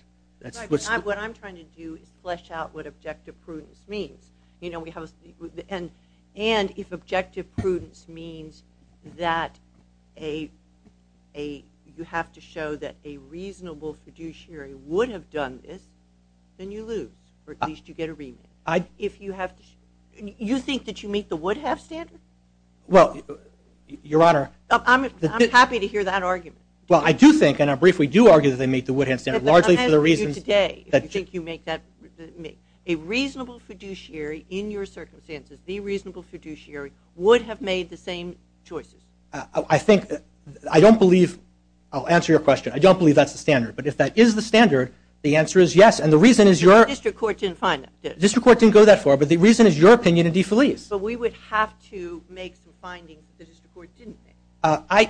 What I'm trying to do is flesh out what objective prudence means. And if objective prudence means that you have to show that a reasonable fiduciary would have done this, then you lose, or at least you get a rebate. You think that you meet the Woodhouse standard? Well, Your Honor... I'm happy to hear that argument. Well, I do think, and I briefly do argue that they meet the Woodhouse standard, largely for the reason that... the reasonable fiduciary, in your circumstances, the reasonable fiduciary would have made the same choices. I think that... I don't believe... I'll answer your question. I don't believe that's the standard. But if that is the standard, the answer is yes. And the reason is your... The district court didn't find it. The district court didn't go that far, but the reason is your opinion in DeFelice. But we would have to make some findings the district court didn't make.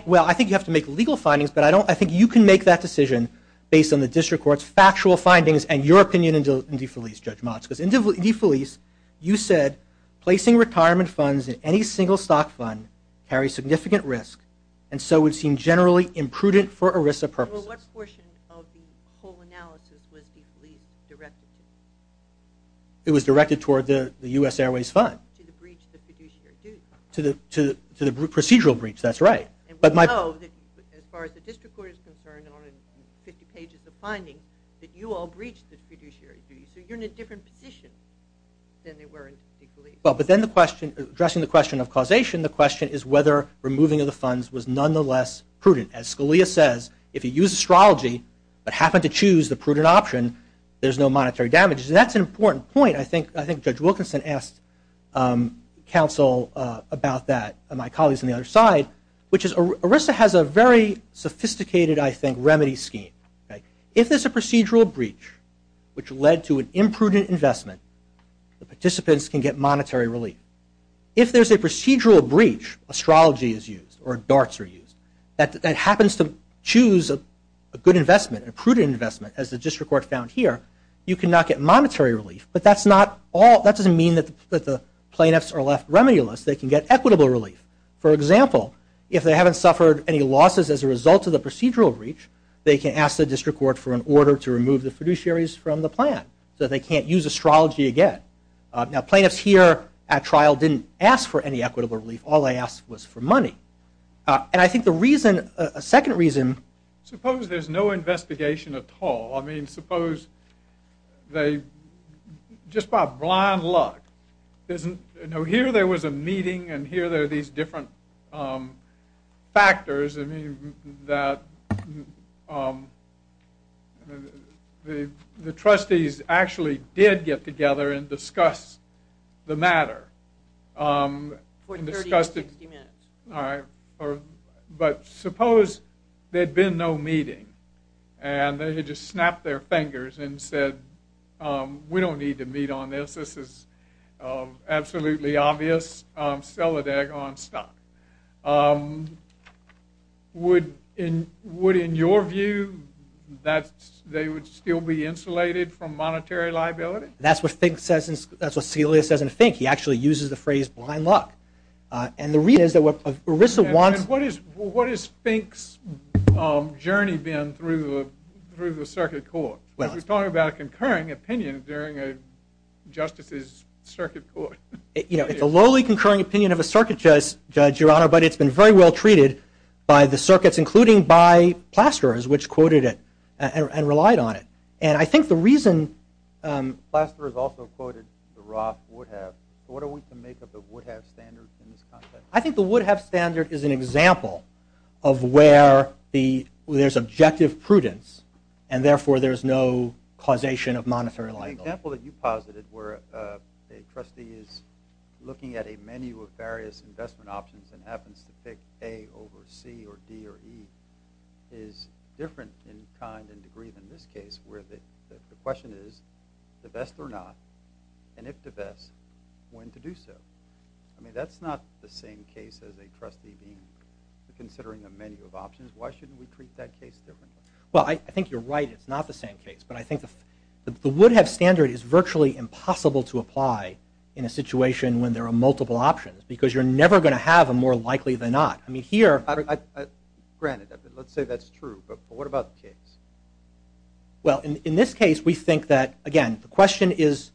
Well, I think you have to make legal findings, but I think you can make that decision based on the district court's factual findings and your opinion in DeFelice, Judge Motz. Because in DeFelice, you said, placing retirement funds in any single stock fund carries significant risk, and so would seem generally imprudent for ERISA purposes. Well, what portion of the whole analysis was DeFelice directed to? It was directed toward the U.S. Airways fund. To the breach of the fiduciary duty. To the procedural breach, that's right. And we know, as far as the district court is concerned, on 50 pages of findings, that you all breached the fiduciary duty. So you're in a different position than you were in DeFelice. Well, but then the question, addressing the question of causation, the question is whether removing of the funds was nonetheless prudent. As Scalia says, if you use astrology but happen to choose the prudent option, there's no monetary damage. And that's an important point. I think Judge Wilkinson asked counsel about that, and my colleagues on the other side, which is ERISA has a very sophisticated, I think, remedy scheme. If there's a procedural breach which led to an imprudent investment, the participants can get monetary relief. If there's a procedural breach, astrology is used, or darts are used, that happens to choose a good investment, a prudent investment, as the district court found here, you cannot get monetary relief. But that's not all. That doesn't mean that the plaintiffs are left remedialists. They can get equitable relief. For example, if they haven't suffered any losses as a result of the procedural breach, they can ask the district court for an order to remove the fiduciaries from the plan, so they can't use astrology again. Now, plaintiffs here at trial didn't ask for any equitable relief. All they asked was for money. And I think the reason, a second reason. Suppose there's no investigation at all. I mean, suppose they, just by blind luck, here there was a meeting and here there are these different factors, that the trustees actually did get together and discuss the matter. But suppose there had been no meeting, and they had just snapped their fingers and said, we don't need to meet on this, this is absolutely obvious, sell the deck on stock. Would, in your view, they would still be insulated from monetary liability? That's what Fink says, that's what Scalia says in Fink. He actually uses the phrase blind luck. And the reason is that what Arisa wanted And what has Fink's journey been through the circuit court? You're talking about a concurring opinion during a justice's circuit court. You know, it's a lowly concurring opinion of a circuit judge, Your Honor, but it's been very well treated by the circuits, including by Plasterers, which quoted it and relied on it. And I think the reason Plasterers also quoted the Roth-Woodhave. What are we to make of the Woodhave standards in this context? I think the Woodhave standard is an example of where there's objective prudence, and therefore there's no causation of monetary liability. The example that you posited where a trustee is looking at a menu of various investment options and happens to pick A over C or D or E is different in kind and degree than this case, where the question is the best or not, and if the best, when to do so. I mean, that's not the same case as a trustee considering a menu of options. Why shouldn't we treat that case differently? Well, I think you're right, it's not the same case, but I think the Woodhave standard is virtually impossible to apply in a situation when there are multiple options, because you're never going to have a more likely than not. I mean, here... Granted, let's say that's true, but what about the case? Well, in this case, we think that, again, the question is,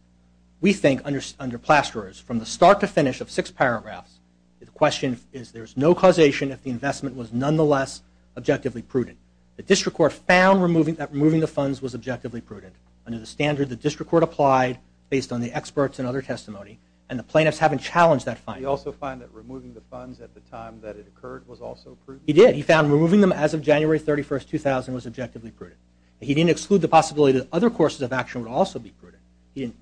we think under Plasterers, from the start to finish of six paragraphs, the question is there's no causation if the investment was nonetheless objectively prudent. The district court found that removing the funds was objectively prudent. Under the standard, the district court applied based on the experts and other testimony, and the plaintiffs haven't challenged that finding. Did he also find that removing the funds at the time that it occurred was also prudent? He did. He found removing them as of January 31, 2000, was objectively prudent. He didn't exclude the possibility that other courses of action would also be prudent. He didn't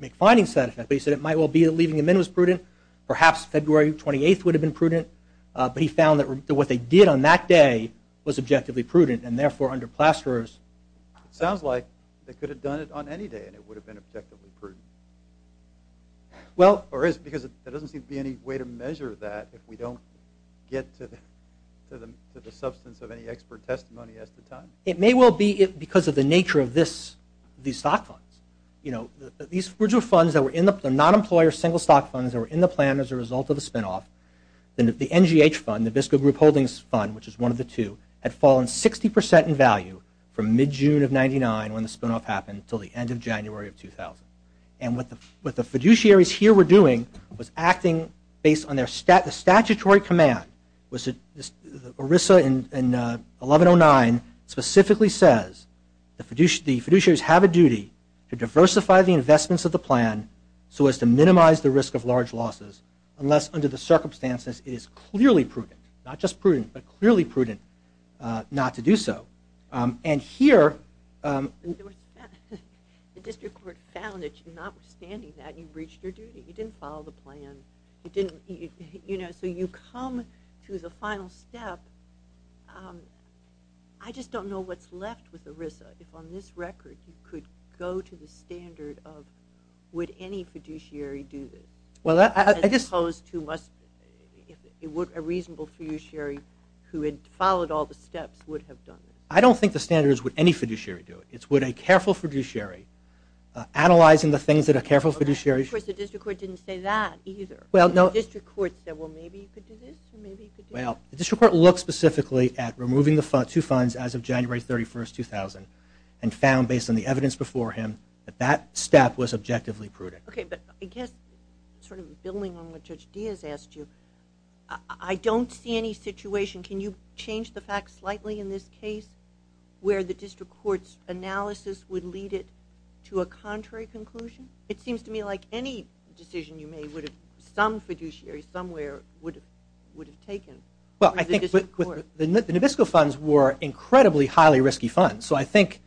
make findings to that effect, but he said it might well be that leaving them in was prudent, perhaps February 28th would have been prudent, but he found that what they did on that day was objectively prudent, and therefore, under Plasterers... It sounds like they could have done it on any day, and it would have been objectively prudent. Well... Or is it? Because there doesn't seem to be any way to measure that if we don't get to the substance of any expert testimony at the time. It may well be because of the nature of this stock fund. You know, these original funds that were not employer single stock funds that were in the plan as a result of the spinoff, the NGH fund, the fiscal group holdings fund, which is one of the two, had fallen 60% in value from mid-June of 1999 when the spinoff happened until the end of January of 2000. And what the fiduciaries here were doing was acting based on their statutory command. Orissa in 1109 specifically says, the fiduciaries have a duty to diversify the investments of the plan so as to minimize the risk of large losses unless under the circumstances it is clearly prudent, not just prudent, but clearly prudent not to do so. And here... The district court found that notwithstanding that, you breached your duty. You didn't follow the plan. You know, so you come to the final step. I just don't know what's left with Orissa. If on this record you could go to the standard of would any fiduciary do this? Well, I just... As opposed to what a reasonable fiduciary who had followed all the steps would have done. I don't think the standard is would any fiduciary do it. It's would a careful fiduciary, analyzing the things that a careful fiduciary... Of course, the district court didn't say that either. Well, no... The district court said, well, maybe he could do this and maybe he could do that. Well, the district court looked specifically at removing the two funds as of January 31, 2000 and found based on the evidence before him that that step was objectively prudent. Okay, but I guess sort of building on what Judge Diaz asked you, I don't see any situation... Can you change the facts slightly in this case where the district court's analysis would lead it to a contrary conclusion? It seems to me like any decision you made would have... Some fiduciary somewhere would have taken... Well, I think the Nabisco funds were incredibly highly risky funds. So I think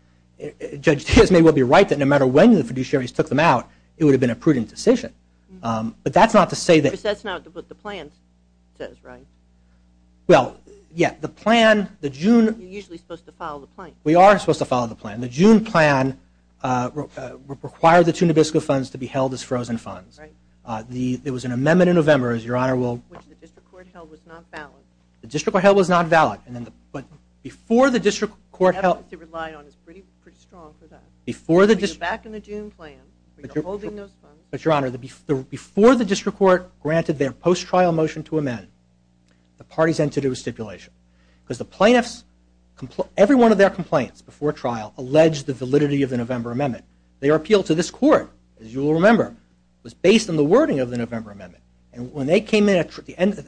Judge Diaz may well be right that no matter when the fiduciaries took them out, it would have been a prudent decision. But that's not to say that... But that's not what the plan says, right? Well, yeah. The plan, the June... You're usually supposed to follow the plan. We are supposed to follow the plan. The June plan required the two Nabisco funds to be held as frozen funds. Right. There was an amendment in November, as Your Honor will... Which the district court held was not valid. The district court held was not valid. Before the district court held... Before the district... But, Your Honor, before the district court granted their post-trial motion to amend, the parties had to do a stipulation. Because the plaintiffs... Every one of their complaints before trial alleged the validity of the November amendment. Their appeal to this court, as you will remember, was based on the wording of the November amendment. And when they came in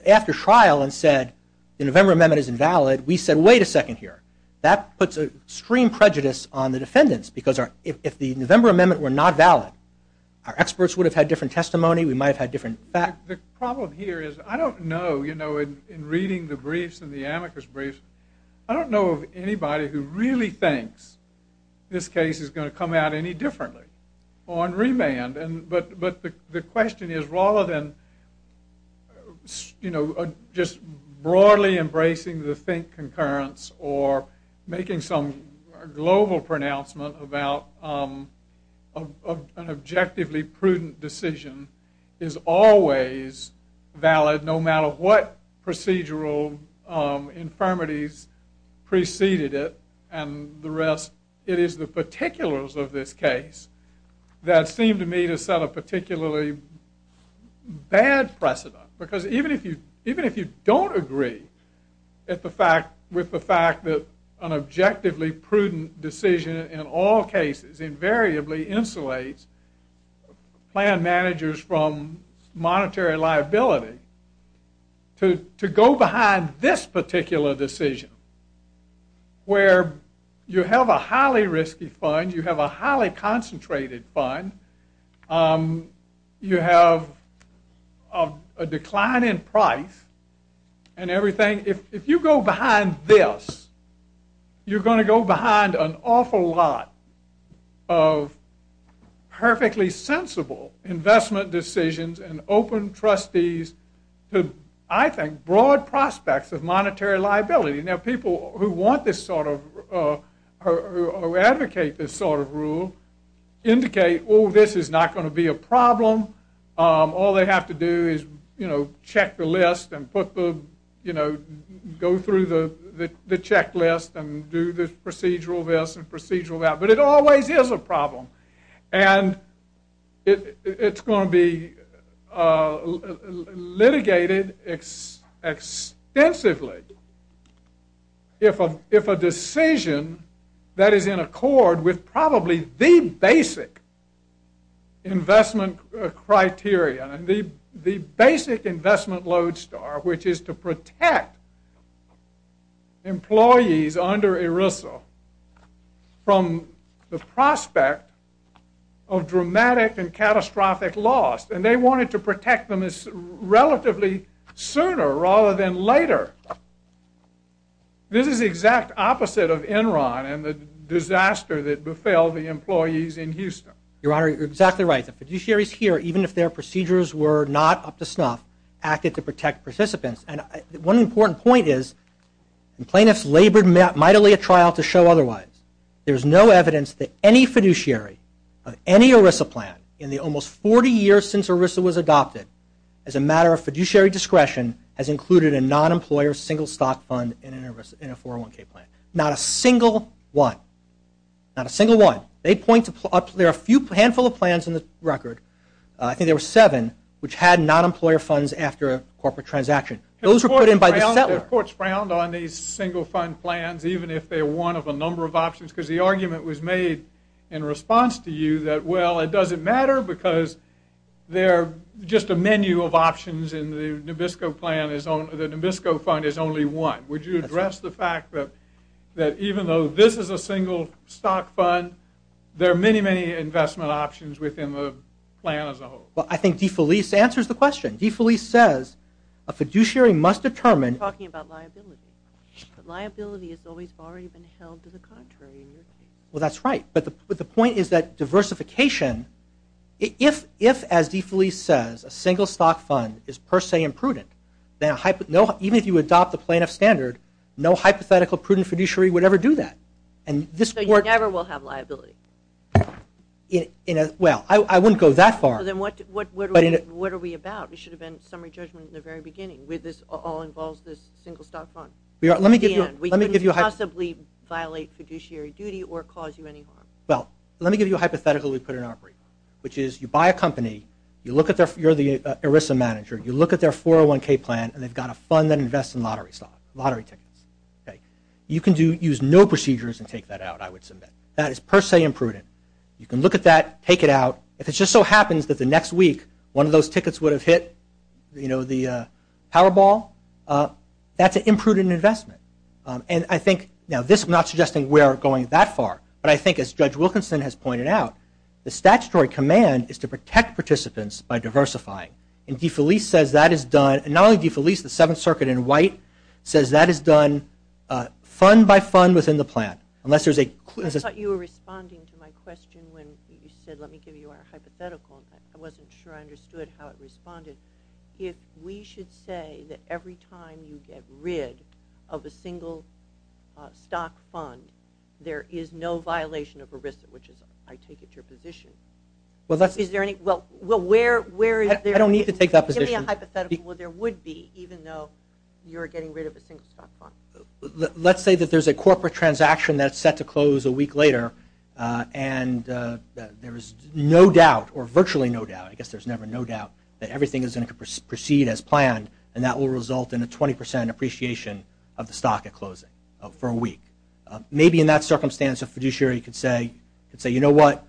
after trial and said the November amendment is invalid, we said, wait a second here. That puts extreme prejudice on the defendants. Because if the November amendment were not valid, our experts would have had different testimony. We might have had different facts. The problem here is I don't know, you know, in reading the briefs and the amicus briefs, I don't know of anybody who really thinks this case is going to come out any differently on remand. But the question is rather than, you know, just broadly embracing the think concurrence or making some global pronouncement about an objectively prudent decision is always valid, no matter what procedural infirmities preceded it and the rest. It is the particulars of this case that seem to me to set a particularly bad precedent. Because even if you don't agree with the fact that an objectively prudent decision in all cases invariably insulates plan managers from monetary liability, to go behind this particular decision where you have a highly risky fund, you have a highly concentrated fund, you have a decline in price and everything, if you go behind this, you're going to go behind an awful lot of perfectly sensible investment decisions and open trustees to, I think, broad prospects of monetary liability. Now, people who want this sort of, who advocate this sort of rule indicate, oh, this is not going to be a problem. All they have to do is, you know, check the list and put the, you know, go through the checklist and do the procedural this and procedural that. But it always is a problem. And it's going to be litigated extensively if a decision that is in accord with probably the basic investment criteria, the basic investment lodestar, which is to protect employees under ERISA from the prospect of dramatic and catastrophic loss. And they wanted to protect them relatively sooner rather than later. This is the exact opposite of Enron and the disaster that befell the employees in Houston. Your Honor, you're exactly right. The fiduciaries here, even if their procedures were not up to snuff, acted to protect participants. And one important point is plaintiffs labored mightily at trial to show otherwise. There's no evidence that any fiduciary of any ERISA plan in the almost 40 years since ERISA was adopted as a matter of fiduciary discretion has included a non-employer single stock fund in a 401k plan. Not a single one. Not a single one. There are a handful of plans in this record. I think there were seven which had non-employer funds after a corporate transaction. Those were put in by the settler. The court's frowned on these single fund plans even if they're one of a number of options because the argument was made in response to you that, well, it doesn't matter because they're just a menu of options in the Nabisco plan. The Nabisco fund is only one. Would you address the fact that even though this is a single stock fund, there are many, many investment options within the plan as a whole? Well, I think DeFelice answers the question. DeFelice says a fiduciary must determine. You're talking about liability. Liability is always far even held to the contrary. Well, that's right. But the point is that diversification, if, as DeFelice says, a single stock fund is per se imprudent, even if you adopt the plaintiff standard, no hypothetical prudent fiduciary would ever do that. So you never will have liability? Well, I wouldn't go that far. Then what are we about? We should have been summary judgment in the very beginning. This all involves this single stock fund. We couldn't possibly violate fiduciary duty or cause you any harm. Well, let me give you a hypothetical we put in our brief, which is you buy a company. You're the ERISA manager. You look at their 401K plan, and they've got a fund that invests in lottery tickets. You can use no procedures and take that out, I would submit. That is per se imprudent. You can look at that, take it out. If it just so happens that the next week one of those tickets would have hit, you know, the Powerball, that's an imprudent investment. And I think, you know, this is not suggesting we are going that far, but I think as Judge Wilkinson has pointed out, the statutory command is to protect participants by diversifying. And DeFelice says that is done. And not only DeFelice, the Seventh Circuit in white says that is done fund by fund within the plan. I thought you were responding to my question when you said, let me give you a hypothetical. I wasn't sure I understood how it responded. If we should say that every time you get rid of a single stock fund, there is no violation of ERISA, which is, I take it, your position. Well, where is it? I don't need to take that position. Give me a hypothetical where there would be, even though you are getting rid of a single stock fund. Let's say that there is a corporate transaction that is set to close a week later and there is no doubt or virtually no doubt, I guess there is never no doubt, that everything is going to proceed as planned and that will result in a 20 percent appreciation of the stock at closing for a week. Maybe in that circumstance, a fiduciary could say, you know what,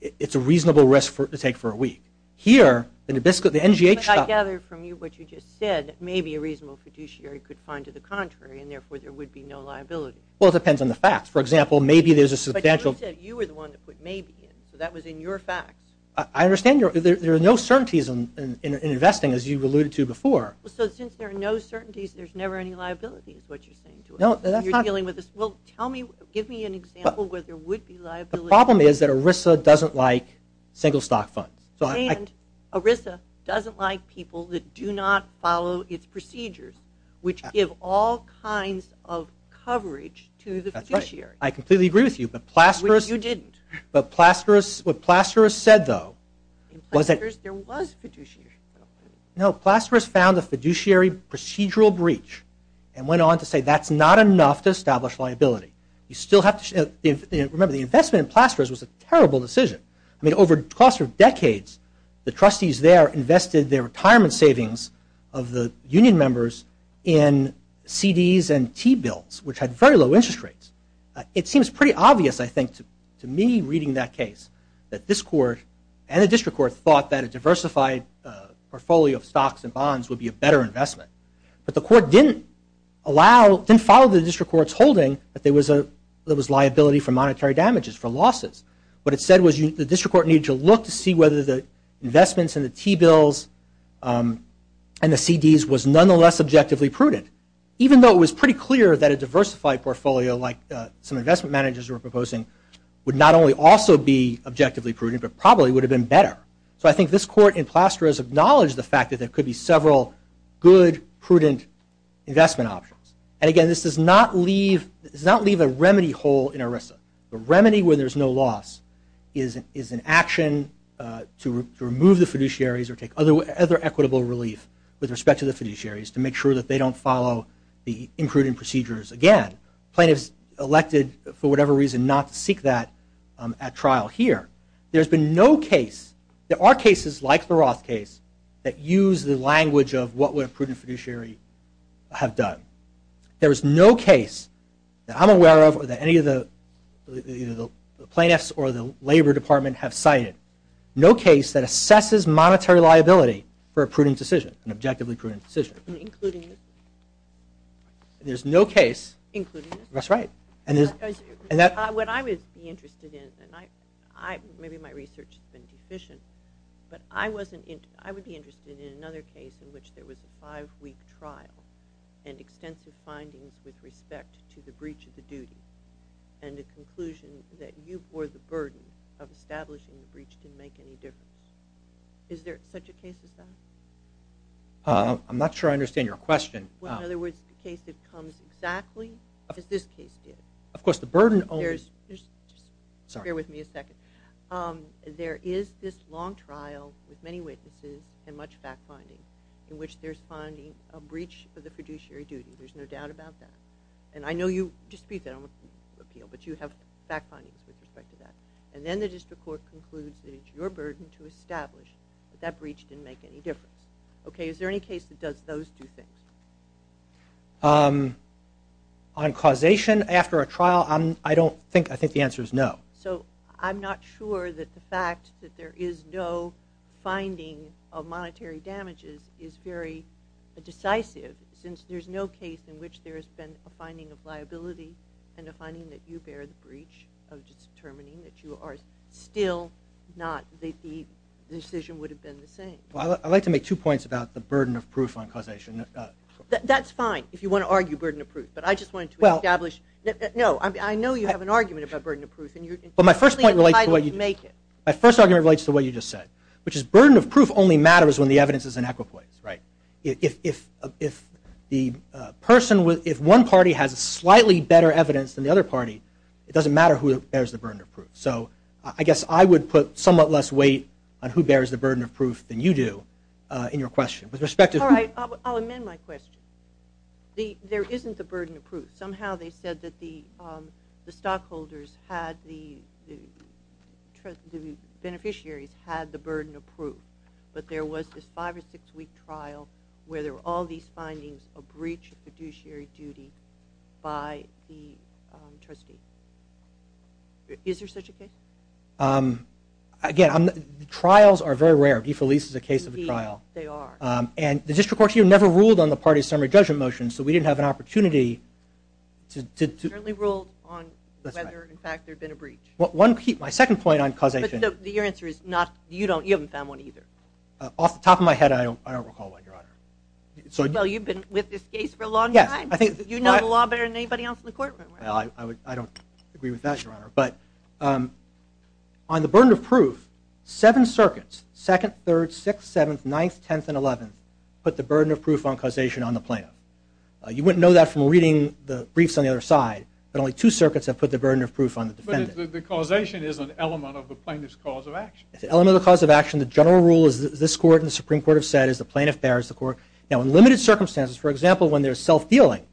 it is a reasonable risk to take for a week. Here, in the NGH stock... But I gathered from you what you just said, maybe a reasonable fiduciary could find to the contrary and therefore there would be no liability. Well, it depends on the facts. For example, maybe there is a substantial... But you said you were the one that put maybe in, so that was in your facts. I understand. There are no certainties in investing as you have alluded to before. So since there are no certainties, there is never any liability is what you are saying. Well, tell me, give me an example where there would be liability. The problem is that ERISA doesn't like single stock funds. And ERISA doesn't like people that do not follow its procedures, which give all kinds of coverage to the fiduciary. That's right. I completely agree with you, but Plasterist... Which you didn't. But Plasterist, what Plasterist said though was that... In Plasterist, there was fiduciary coverage. No, Plasterist found a fiduciary procedural breach and went on to say that's not enough to establish liability. You still have to... Remember, the investment in Plasterist was a terrible decision. I mean, over the course of decades, the trustees there invested their retirement savings of the union members in CDs and T-bills, which had very low interest rates. It seems pretty obvious, I think, to me reading that case, that this court and the district court thought that a diversified portfolio of stocks and bonds would be a better investment. But the court didn't allow... Didn't follow the district court's holding that there was liability for monetary damages, for losses. What it said was the district court needed to look to see whether the investments in the T-bills and the CDs was nonetheless objectively prudent. Even though it was pretty clear that a diversified portfolio, like some investment managers were proposing, would not only also be objectively prudent, but probably would have been better. So I think this court in Plasterist acknowledged the fact that there could be several good, prudent investment options. And again, this does not leave a remedy hole in ERISA. A remedy where there's no loss is an action to remove the fiduciaries or take other equitable relief with respect to the fiduciaries to make sure that they don't follow the imprudent procedures again. Plaintiffs elected, for whatever reason, not seek that at trial here. There's been no case... There are cases, like the Roth case, that use the language of what would a prudent fiduciary have done. There is no case that I'm aware of, or that any of the plaintiffs or the labor department have cited, no case that assesses monetary liability for a prudent decision, an objectively prudent decision. Including this. There's no case... Including this. That's right. What I was interested in, and maybe my research has been sufficient, but I was interested in another case in which there was a five-week trial and extensive findings with respect to the breach of the duty and the conclusion that you bore the burden of establishing the breach didn't make any difference. Is there such a case as that? I'm not sure I understand your question. Well, in other words, the case that comes exactly is this case here. Of course, the burden only... Bear with me a second. There is this long trial with many witnesses and much fact-finding in which there's finding a breach of the fiduciary duty. There's no doubt about that. And I know you dispute that on the appeal, but you have fact-finding with respect to that. And then the district court concludes that it's your burden to establish that that breach didn't make any difference. Okay? Is there any case that does those two things? On causation after a trial, I don't think... I think the answer is no. So I'm not sure that the fact that there is no finding of monetary damages is very decisive since there's no case in which there's been a finding of liability and a finding that you bear the breach of just determining that you are still not... that the decision would have been the same. I'd like to make two points about the burden of proof on causation. That's fine if you want to argue burden of proof. But I just wanted to establish... No, I know you have an argument about burden of proof. But my first point relates to what you just said, which is burden of proof only matters when the evidence is inequitable. Right? If one party has slightly better evidence than the other party, it doesn't matter who bears the burden of proof. So I guess I would put somewhat less weight on who bears the burden of proof than you do in your question. With respect to... All right, I'll amend my question. There isn't the burden of proof. Somehow they said that the stockholders had the... the beneficiaries had the burden of proof. But there was this five or six-week trial where there were all these findings that there was a breach of fiduciary duty by the trustee. Is there such a case? Again, trials are very rare. Defelice is a case of a trial. They are. And the district court here never ruled on the party summary judgment motion, so we didn't have an opportunity to... It certainly ruled on whether, in fact, there had been a breach. My second point on causation... But your answer is not... Off the top of my head, I don't recall one, Your Honor. Well, you've been with this case for a long time. You know the law better than anybody else in the courtroom. I don't agree with that, Your Honor. But on the burden of proof, seven circuits, 2nd, 3rd, 6th, 7th, 9th, 10th, and 11th, put the burden of proof on causation on the plaintiff. You wouldn't know that from reading the briefs on the other side, but only two circuits have put the burden of proof on the defendant. But the causation is an element of the plaintiff's cause of action. It's an element of the cause of action. The general rule is that this court and the Supreme Court have said that the plaintiff bears the court. Now, in limited circumstances, for example, when there's self-healing,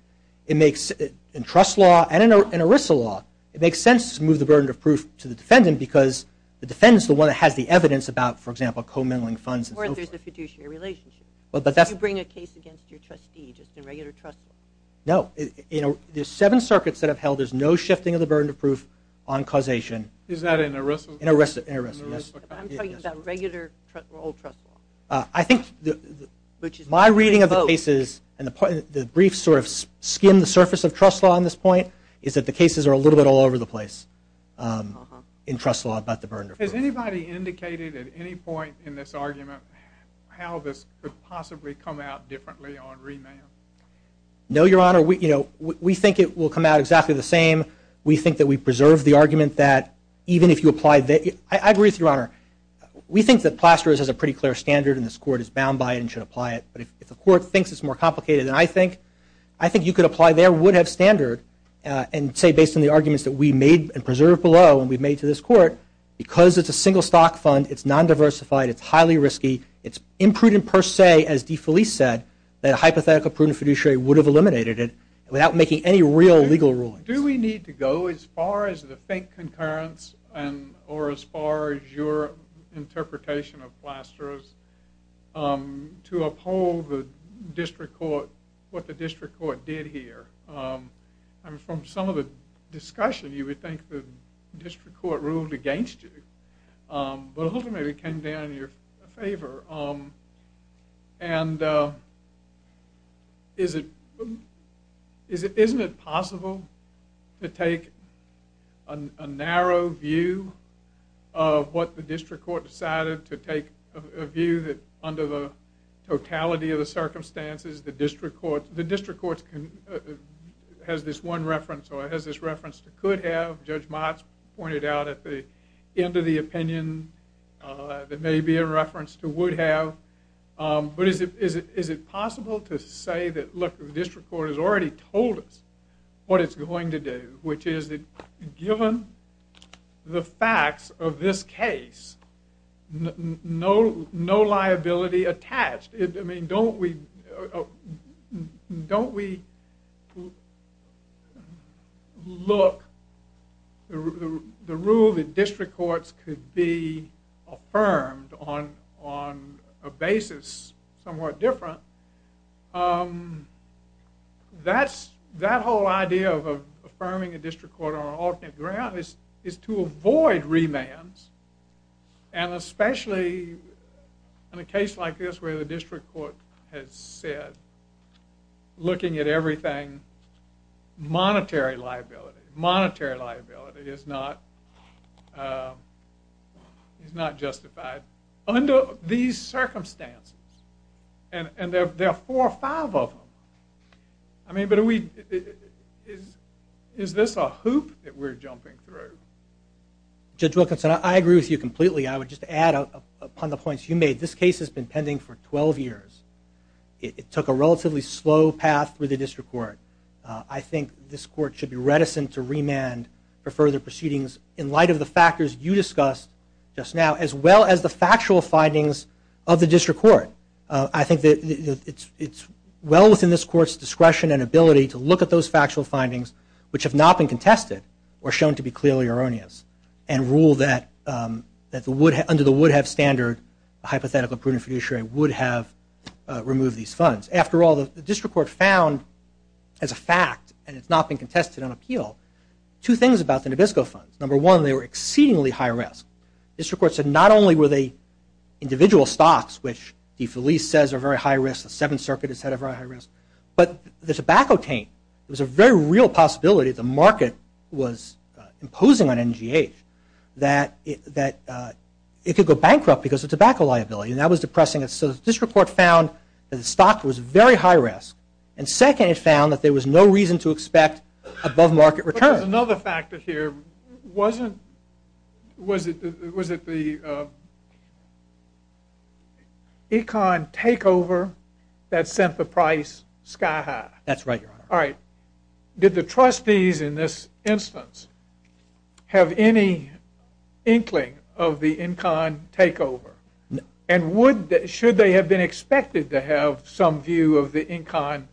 in trust law and in ERISA law, it makes sense to move the burden of proof to the defendant because the defendant's the one that had the evidence about, for example, committing funds and so forth. Or if there's a fiduciary relationship. But that's... If you bring a case against your trustees, it's in regular trust law. No. In the seven circuits that I've held, there's no shifting of the burden of proof on causation. Is that in ERISA? In ERISA. I'm talking about regular old trust law. I think my reading of the cases and the briefs sort of skim the surface of trust law on this point is that the cases are a little bit all over the place in trust law about the burden of proof. Has anybody indicated at any point in this argument how this could possibly come out differently on remand? No, Your Honor. We think it will come out exactly the same. We think that we've preserved the argument that even if you apply... I agree with you, Your Honor. We think that Plasterers has a pretty clear standard and this court is bound by it and should apply it. But if the court thinks it's more complicated than I think, I think you could apply there, would have standard, and say based on the arguments that we made and preserved below and we've made to this court, because it's a single stock fund, it's non-diversified, it's highly risky, it's imprudent per se, as DeFelice said, that a hypothetical prudent fiduciary would have eliminated it without making any real legal ruling. Do we need to go as far as the faint concurrence or as far as your interpretation of Plasterers to uphold what the district court did here? From some of the discussion, you would think the district court ruled against you, but ultimately it came down in your favor. And isn't it possible to take a narrow view of what the district court decided to take, a view that under the totality of the circumstances, the district court has this one reference or has this reference to could have. Judge Motz pointed out at the end of the opinion that may be in reference to would have. But is it possible to say that, look, the district court has already told us what it's going to do, which is that given the facts of this case, no liability attached. I mean, don't we look, the rule that district courts could be affirmed on a basis somewhat different, that whole idea of affirming a district court on alternate ground is to avoid remands and especially in a case like this where the district court had said, looking at everything, monetary liability, monetary liability is not justified. Under these circumstances, and there are four or five of them, I mean, is this a hoop that we're jumping through? Judge Wilkinson, I agree with you completely. I would just add upon the points you made. This case has been pending for 12 years. It took a relatively slow path through the district court. I think this court should be reticent to remand for further proceedings in light of the factors you discussed just now as well as the factual findings of the district court. I think it's well within this court's discretion and ability to look at those factual findings, which have not been contested, or shown to be clearly erroneous, and rule that under the would have standard, the hypothetical prudent fiduciary would have removed these funds. After all, the district court found, as a fact, and it's not been contested on appeal, two things about the Nabisco Fund. Number one, they were exceedingly high risk. The district court said not only were they individual stocks, which the police says are very high risk, the Seventh Circuit has said are very high risk, but the tobacco chain was a very real possibility the market was imposing on NGH that it could go bankrupt because of tobacco liability. That was depressing. So the district court found that the stock was very high risk. And second, it found that there was no reason to expect above market recurrence. Another factor here, was it the econ takeover that sent the price sky high? That's right, Your Honor. Did the trustees in this instance have any inkling of the econ takeover? No. And should they have been expected to have some view of the econ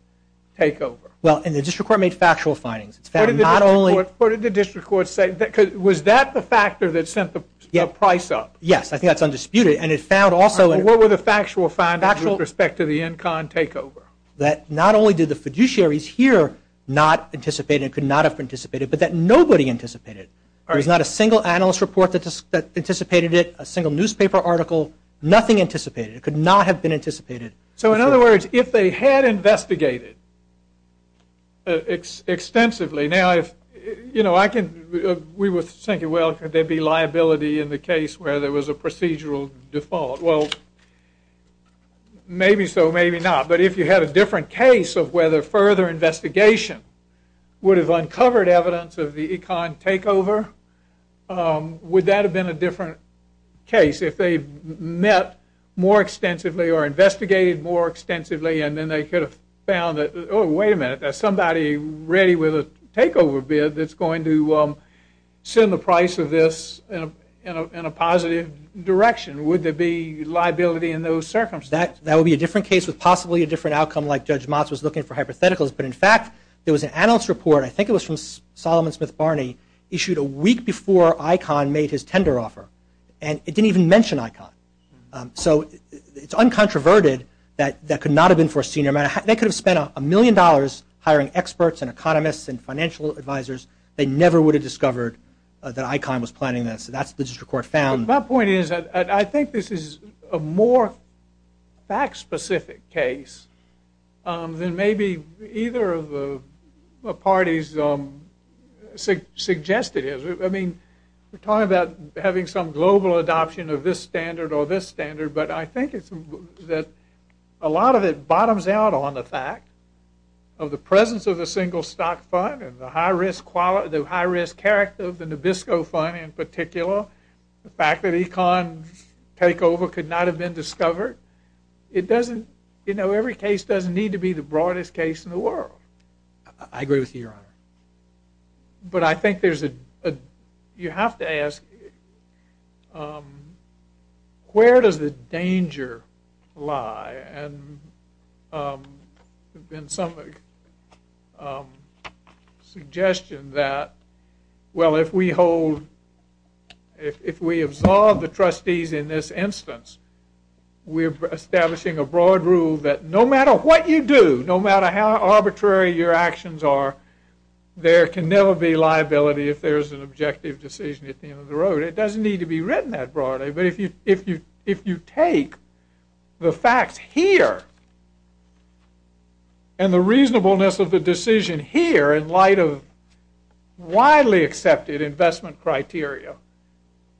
takeover? Well, and the district court made factual findings. What did the district court say? Because was that the factor that sent the price up? Yes, I think that's undisputed. What were the factual findings with respect to the econ takeover? That not only did the fiduciaries here not anticipate it, could not have anticipated it, but that nobody anticipated it. There's not a single analyst report that anticipated it, a single newspaper article, nothing anticipated. It could not have been anticipated. So in other words, if they had investigated extensively, now, you know, we were thinking, well, could there be liability in the case where there was a procedural default? Well, maybe so, maybe not. But if you had a different case of whether further investigation would have uncovered evidence of the econ takeover, would that have been a different case? If they met more extensively or investigated more extensively and then they could have found that, oh, wait a minute, there's somebody ready with a takeover bid that's going to send the price of this in a positive direction, would there be liability in those circumstances? That would be a different case with possibly a different outcome like Judge Motz was looking for hypotheticals. But in fact, there was an analyst report, I think it was from Solomon Smith Barney, issued a week before ICON made his tender offer, and it didn't even mention ICON. So it's uncontroverted that that could not have been foreseen. They could have spent a million dollars hiring experts and economists and financial advisors. They never would have discovered that ICON was planning this. That's the report found. My point is that I think this is a more fact-specific case than maybe either of the parties suggested. I mean, we're talking about having some global adoption of this standard or this standard, but I think that a lot of it bottoms out on the fact of the presence of a single stock fund and the high-risk character of the Nabisco Fund in particular, the fact that ICON takeover could not have been discovered. It doesn't, you know, every case doesn't need to be the broadest case in the world. I agree with you, Your Honor. But I think there's a, you have to ask, where does the danger lie? And there's been some suggestion that, well, if we hold, if we absolve the trustees in this instance, we're establishing a broad rule that no matter what you do, no matter how arbitrary your actions are, there can never be liability if there's an objective decision at the end of the road. It doesn't need to be written that broadly, but if you take the facts here and the reasonableness of the decision here in light of widely accepted investment criteria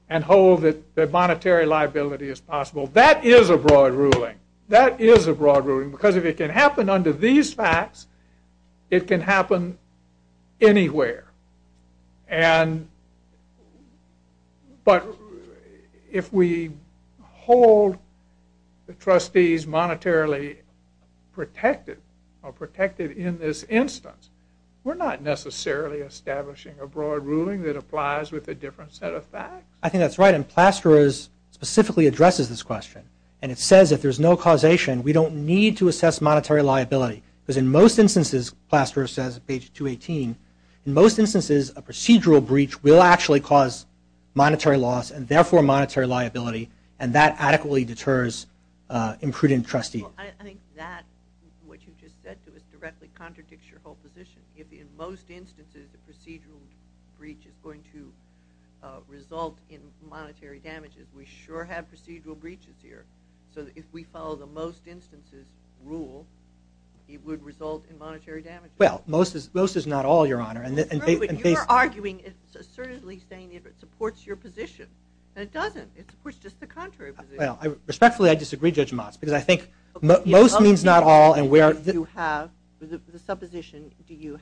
and hold that monetary liability is possible, that is a broad ruling. That is a broad ruling because if it can happen under these facts, it can happen anywhere. But if we hold the trustees monetarily protected or protected in this instance, we're not necessarily establishing a broad ruling that applies with a different set of facts. I think that's right. And Plasterer's specifically addresses this question. And it says if there's no causation, we don't need to assess monetary liability. Because in most instances, Plasterer says on page 218, in most instances, a procedural breach will actually cause monetary loss and therefore monetary liability, and that adequately deters imprudent trustees. I think that, what you just said to us, directly contradicts your whole position. If in most instances, a procedural breach is going to result in monetary damages, we sure have procedural breaches here. So if we follow the most instances rule, it would result in monetary damages. Well, most is not all, Your Honor. But you're arguing, assertively saying that it supports your position. And it doesn't. It supports just the contrary position. Respectfully, I disagree, Judge Motz, because I think most means not all. The supposition, do you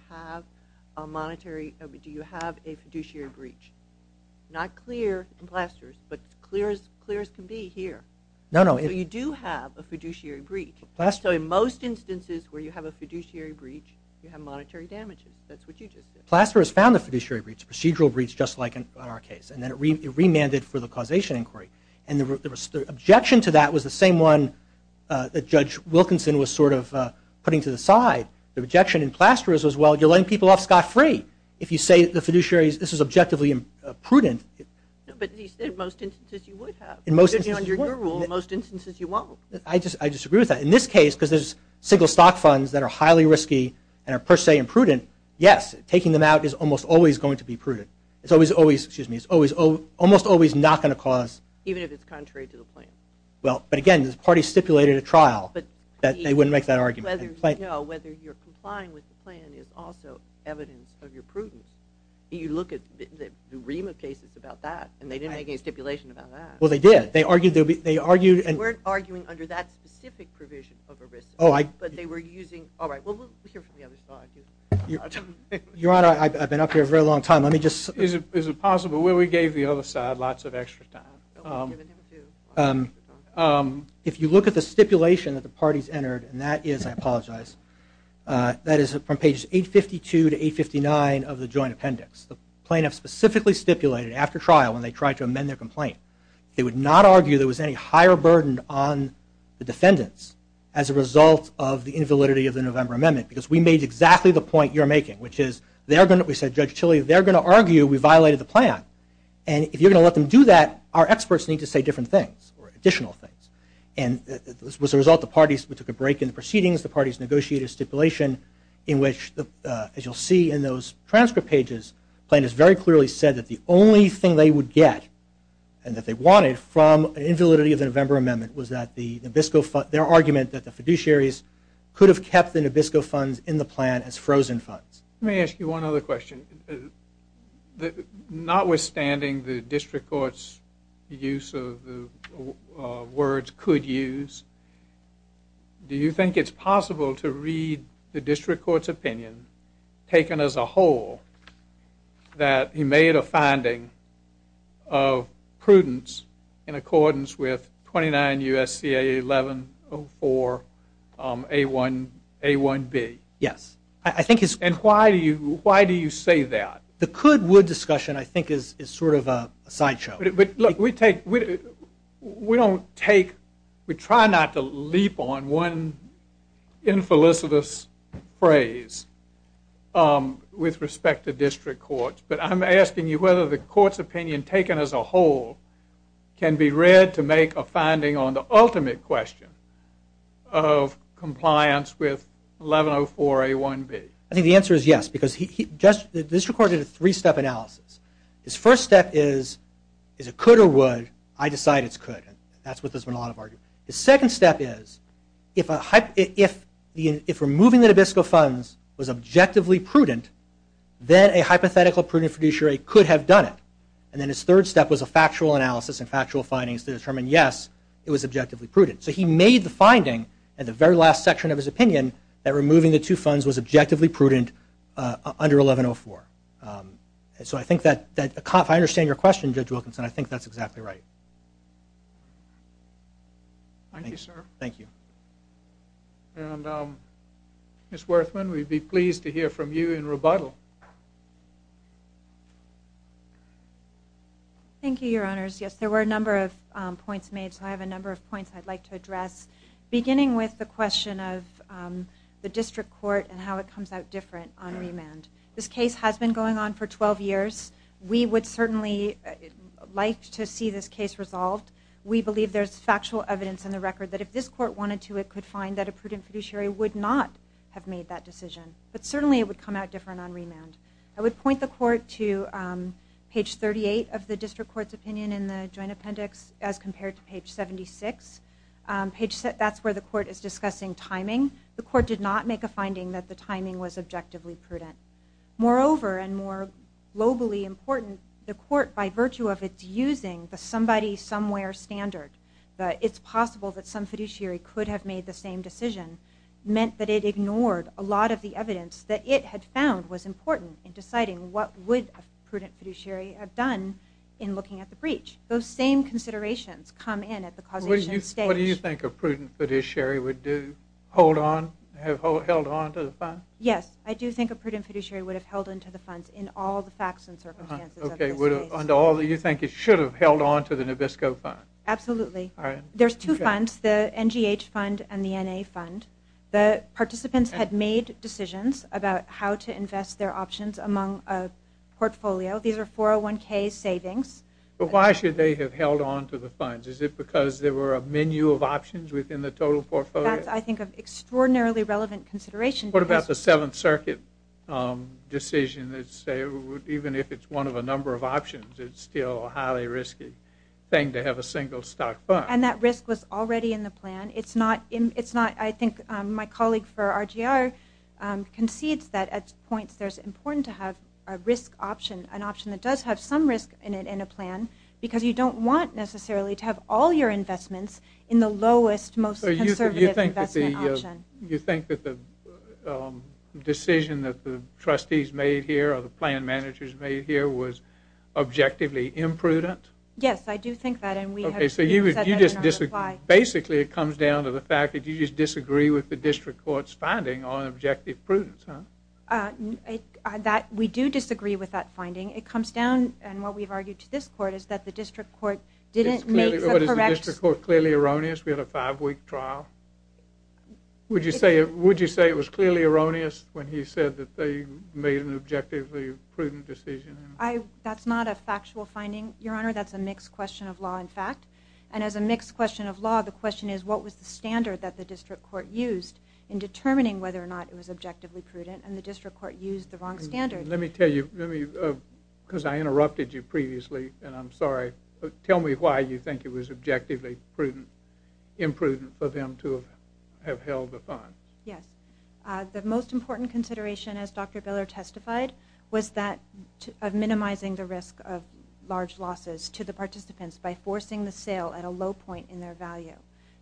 have a fiduciary breach? Not clear in Plasterer's, but clear as can be here. No, no. So you do have a fiduciary breach. So in most instances where you have a fiduciary breach, you have monetary damages. That's what you just said. Plasterer has found a fiduciary breach, a procedural breach, just like in our case. And then it remanded for the causation inquiry. And the objection to that was the same one that Judge Wilkinson was sort of putting to the side. The objection in Plasterer's was, well, you're letting people off scot-free. If you say to the fiduciaries, this is objectively prudent. But you said most instances you would have. Under your rule, most instances you won't. I disagree with that. In this case, because there's single stock funds that are highly risky and are per se imprudent, yes, taking them out is almost always going to be prudent. It's almost always not going to cause... Even if it's contrary to the plaintiff. Well, but again, the party stipulated a trial that they wouldn't make that argument. Whether you're complying with the plan is also evidence of your prudence. You look at the Rima cases about that, and they didn't make any stipulation about that. Well, they did. They argued... They weren't arguing under that specific provision of a risk. Oh, I... But they were using... All right, well, let's hear from the other side. Your Honor, I've been up here a very long time. Let me just... Is it possible... Well, we gave the other side lots of extra time. If you look at the stipulation that the parties entered, and that is... I apologize. That is from pages 852 to 859 of the joint appendix. The plaintiff specifically stipulated, after trial, when they tried to amend their complaint, they would not argue there was any higher burden on the defendants as a result of the invalidity of the November amendment, because we made exactly the point you're making, which is they're going to... We said, Judge Chili, they're going to argue we violated the plan. And if you're going to let them do that, our experts need to say different things, or additional things. And as a result, the parties... We took a break in the proceedings. The parties negotiated a stipulation in which, as you'll see in those transcript pages, plaintiffs very clearly said that the only thing they would get and that they wanted from an invalidity of the November amendment was that the Nabisco fund... Their argument that the fiduciaries could have kept the Nabisco funds in the plan as frozen funds. Let me ask you one other question. Notwithstanding the district court's use of the words could use, do you think it's possible to read the district court's opinion, taken as a whole, that he made a finding of prudence in accordance with 29 U.S.C.A. 1104 A1B? Yes. I think it's... And why do you say that? The could-would discussion, I think, is sort of a sideshow. Look, we take... We don't take... We try not to leap on one infelicitous phrase with respect to district courts, but I'm asking you whether the court's opinion, taken as a whole, can be read to make a finding on the ultimate question of compliance with 1104 A1B. I think the answer is yes, because the district court did a three-step analysis. His first step is, is it could or would? I decide it's could. That's what there's been a lot of argument. The second step is, if removing the Nabisco funds was objectively prudent, then a hypothetical prudent fiduciary could have done it. And then his third step was a factual analysis and factual findings to determine, yes, it was objectively prudent. So he made the finding in the very last section of his opinion that removing the two funds was objectively prudent under 1104. So I think that... If I understand your question, Judge Wilkinson, I think that's exactly right. Thank you, sir. Thank you. Ms. Werthmann, we'd be pleased to hear from you in rebuttal. Thank you, Your Honors. Yes, there were a number of points made, so I have a number of points I'd like to address, beginning with the question of the district court and how it comes out different on remand. This case has been going on for 12 years. We would certainly like to see this case resolved. We believe there's factual evidence in the record that if this court wanted to, it could find that a prudent fiduciary would not have made that decision. But certainly it would come out different on remand. I would point the court to page 38 of the district court's opinion in the joint appendix as compared to page 76. That's where the court is discussing timing. The court did not make a finding that the timing was objectively prudent. Moreover, and more globally important, the court, by virtue of its using the somebody, somewhere standard, that it's possible that some fiduciary could have made the same decision, meant that it ignored a lot of the evidence that it had found was important in deciding what would a prudent fiduciary have done in looking at the breach. Those same considerations come in at the coordination stage. What do you think a prudent fiduciary would do? Hold on, have held on to the fund? Yes, I do think a prudent fiduciary would have held on to the fund in all the facts and circumstances of the case. Okay, under all, do you think it should have held on to the Nabisco fund? Absolutely. All right. There's two funds, the NGH fund and the NA fund. The participants had made decisions about how to invest their options among a portfolio. These are 401K savings. But why should they have held on to the funds? Is it because there were a menu of options within the total portfolio? That's, I think, an extraordinarily relevant consideration. What about the Seventh Circuit decision that say even if it's one of a number of options, it's still a highly risky thing to have a single stock fund? And that risk was already in the plan. It's not, I think, my colleague for RGR concedes that at points there's important to have a risk option, an option that does have some risk in it in a plan because you don't want necessarily to have all your investments in the lowest, most conservative investment option. So you think that the decision that the trustees made here or the plan managers made here was objectively imprudent? Yes, I do think that. Okay, so you just disagree. Basically, it comes down to the fact that you just disagree with the district court's finding on objective prudence, huh? We do disagree with that finding. It comes down, and what we've argued to this court, is that the district court didn't make a correction. But is the district court clearly erroneous to get a five-week trial? Would you say it was clearly erroneous when he said that they made an objectively prudent decision? That's not a factual finding, Your Honor. That's a mixed question of law and fact. And as a mixed question of law, the question is what was the standard that the district court used in determining whether or not it was objectively prudent. And the district court used the wrong standard. Let me tell you, because I interrupted you previously, and I'm sorry. Tell me why you think it was objectively prudent, imprudent for them to have held the fund. Yes. The most important consideration, as Dr. Biller testified, was that of minimizing the risk of large losses to the participants by forcing the sale at a low point in their value.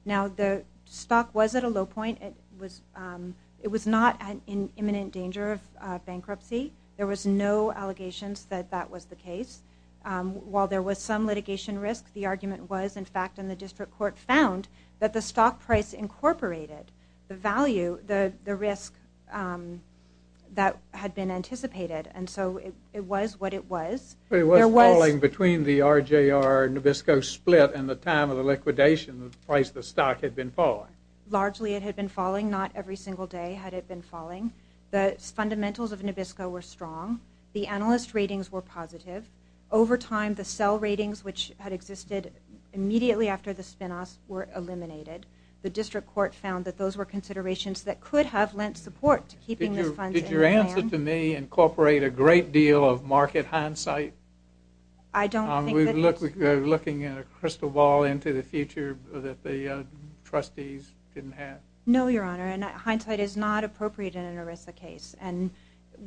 Now, the stock was at a low point. It was not in imminent danger of bankruptcy. There was no allegations that that was the case. While there was some litigation risk, the argument was, in fact, and the district court found, that the stock price incorporated the value, the risk that had been anticipated. And so it was what it was. It was falling between the RJR and Nabisco split and the time of the liquidation the price of the stock had been falling. Largely, it had been falling. Not every single day had it been falling. The fundamentals of Nabisco were strong. The analyst ratings were positive. Over time, the sell ratings, which had existed immediately after the spinoff, were eliminated. The district court found that those were considerations that could have lent support to keeping the funds in hand. Did your answer to me incorporate a great deal of market hindsight? I don't think that... We're looking across the wall into the future that the trustees didn't have. No, Your Honor. Hindsight is not appropriate in an ERISA case.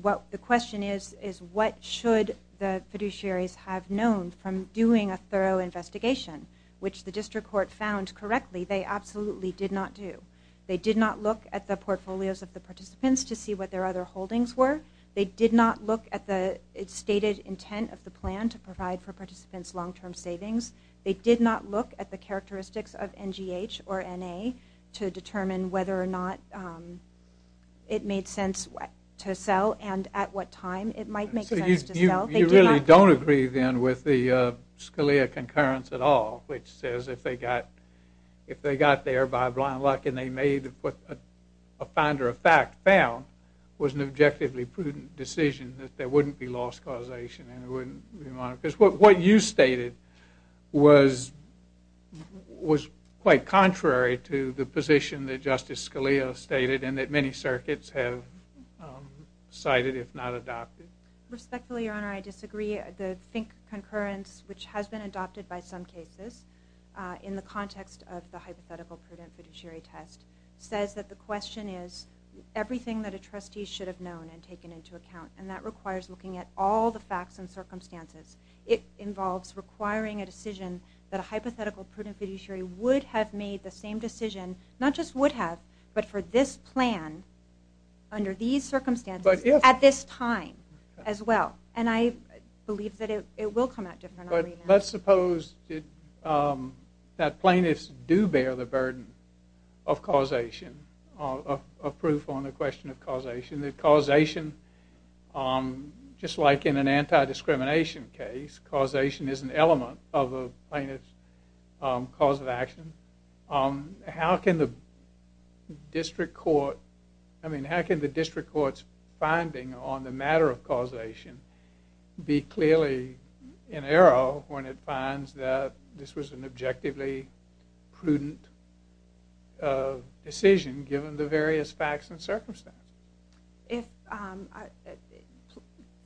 The question is, what should the fiduciaries have known from doing a thorough investigation, which the district court found, correctly, they absolutely did not do. They did not look at the portfolios of the participants to see what their other holdings were. They did not look at the stated intent of the plan to provide for participants long-term savings. They did not look at the characteristics of NGH or NA to determine whether or not it made sense to sell and at what time it might make sense to sell. You really don't agree, then, with the Scalia concurrence at all, which says if they got there by blind luck and they made what a finder of fact found was an objectively prudent decision, that there wouldn't be loss causation. What you stated was quite contrary to the position that Justice Scalia stated and that many circuits have cited, if not adopted. Respectfully, Your Honor, I disagree. The Fink concurrence, which has been adopted by some cases, in the context of the hypothetical prudence fiduciary test, says that the question is, everything that a trustee should have known and taken into account, and that requires looking at all the facts and circumstances, it involves requiring a decision that a hypothetical prudence fiduciary would have made the same decision, not just would have, but for this plan, under these circumstances, at this time as well. And I believe that it will come out different. But let's suppose that plaintiffs do bear the burden of causation, of proof on the question of causation, that causation, just like in an anti-discrimination case, causation is an element of a plaintiff's cause of action. How can the district court's finding on the matter of causation be clearly in error when it finds that this was an objectively prudent decision, given the various facts and circumstances?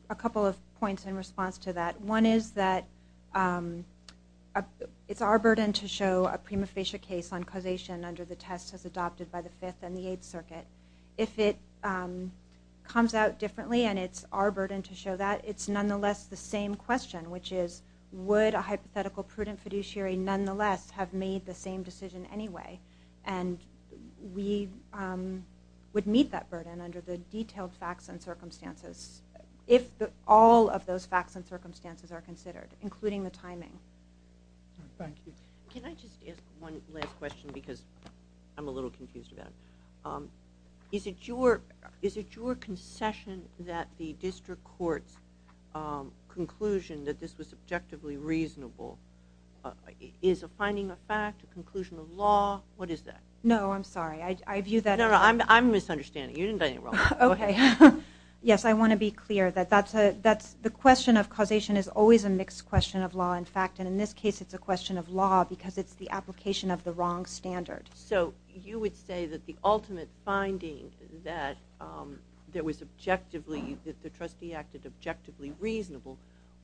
A couple of points in response to that. One is that it's our burden to show a prima facie case on causation under the test as adopted by the Fifth and the Eighth Circuit. If it comes out differently and it's our burden to show that, it's nonetheless the same question, which is, would a hypothetical prudence fiduciary nonetheless have made the same decision anyway? And we would meet that burden under the detailed facts and circumstances if all of those facts and circumstances are considered, including the timing. Thank you. Can I just ask one last question, because I'm a little confused about it? Is it your concession that the district court's conclusion that this was objectively reasonable is a finding of fact, a conclusion of law? What is that? No, I'm sorry. I view that as... No, no, I'm misunderstanding. You didn't get it wrong. Okay. Yes, I want to be clear that the question of causation is always a mixed question of law and fact, and in this case it's a question of law because it's the application of the wrong standard. So you would say that the ultimate finding that the trustee acted objectively reasonable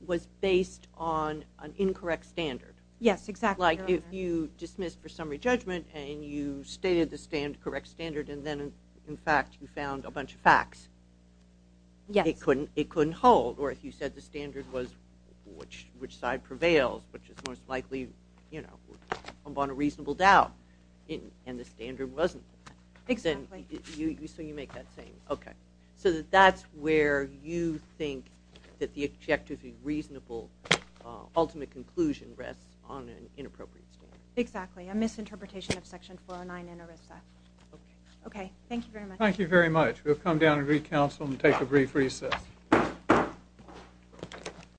was based on an incorrect standard. Yes, exactly. Like if you dismissed for summary judgment and you stated the correct standard and then in fact you found a bunch of facts, it couldn't hold. Or if you said the standard was which side prevailed, which is most likely on a reasonable doubt, and the standard wasn't, so you make that claim. Okay. So that's where you think that the objectively reasonable ultimate conclusion rests on an inappropriate standard. Exactly, a misinterpretation of Section 409 in ERISA. Okay, thank you very much. Thank you very much. We'll come down and re-counsel and take a brief recess.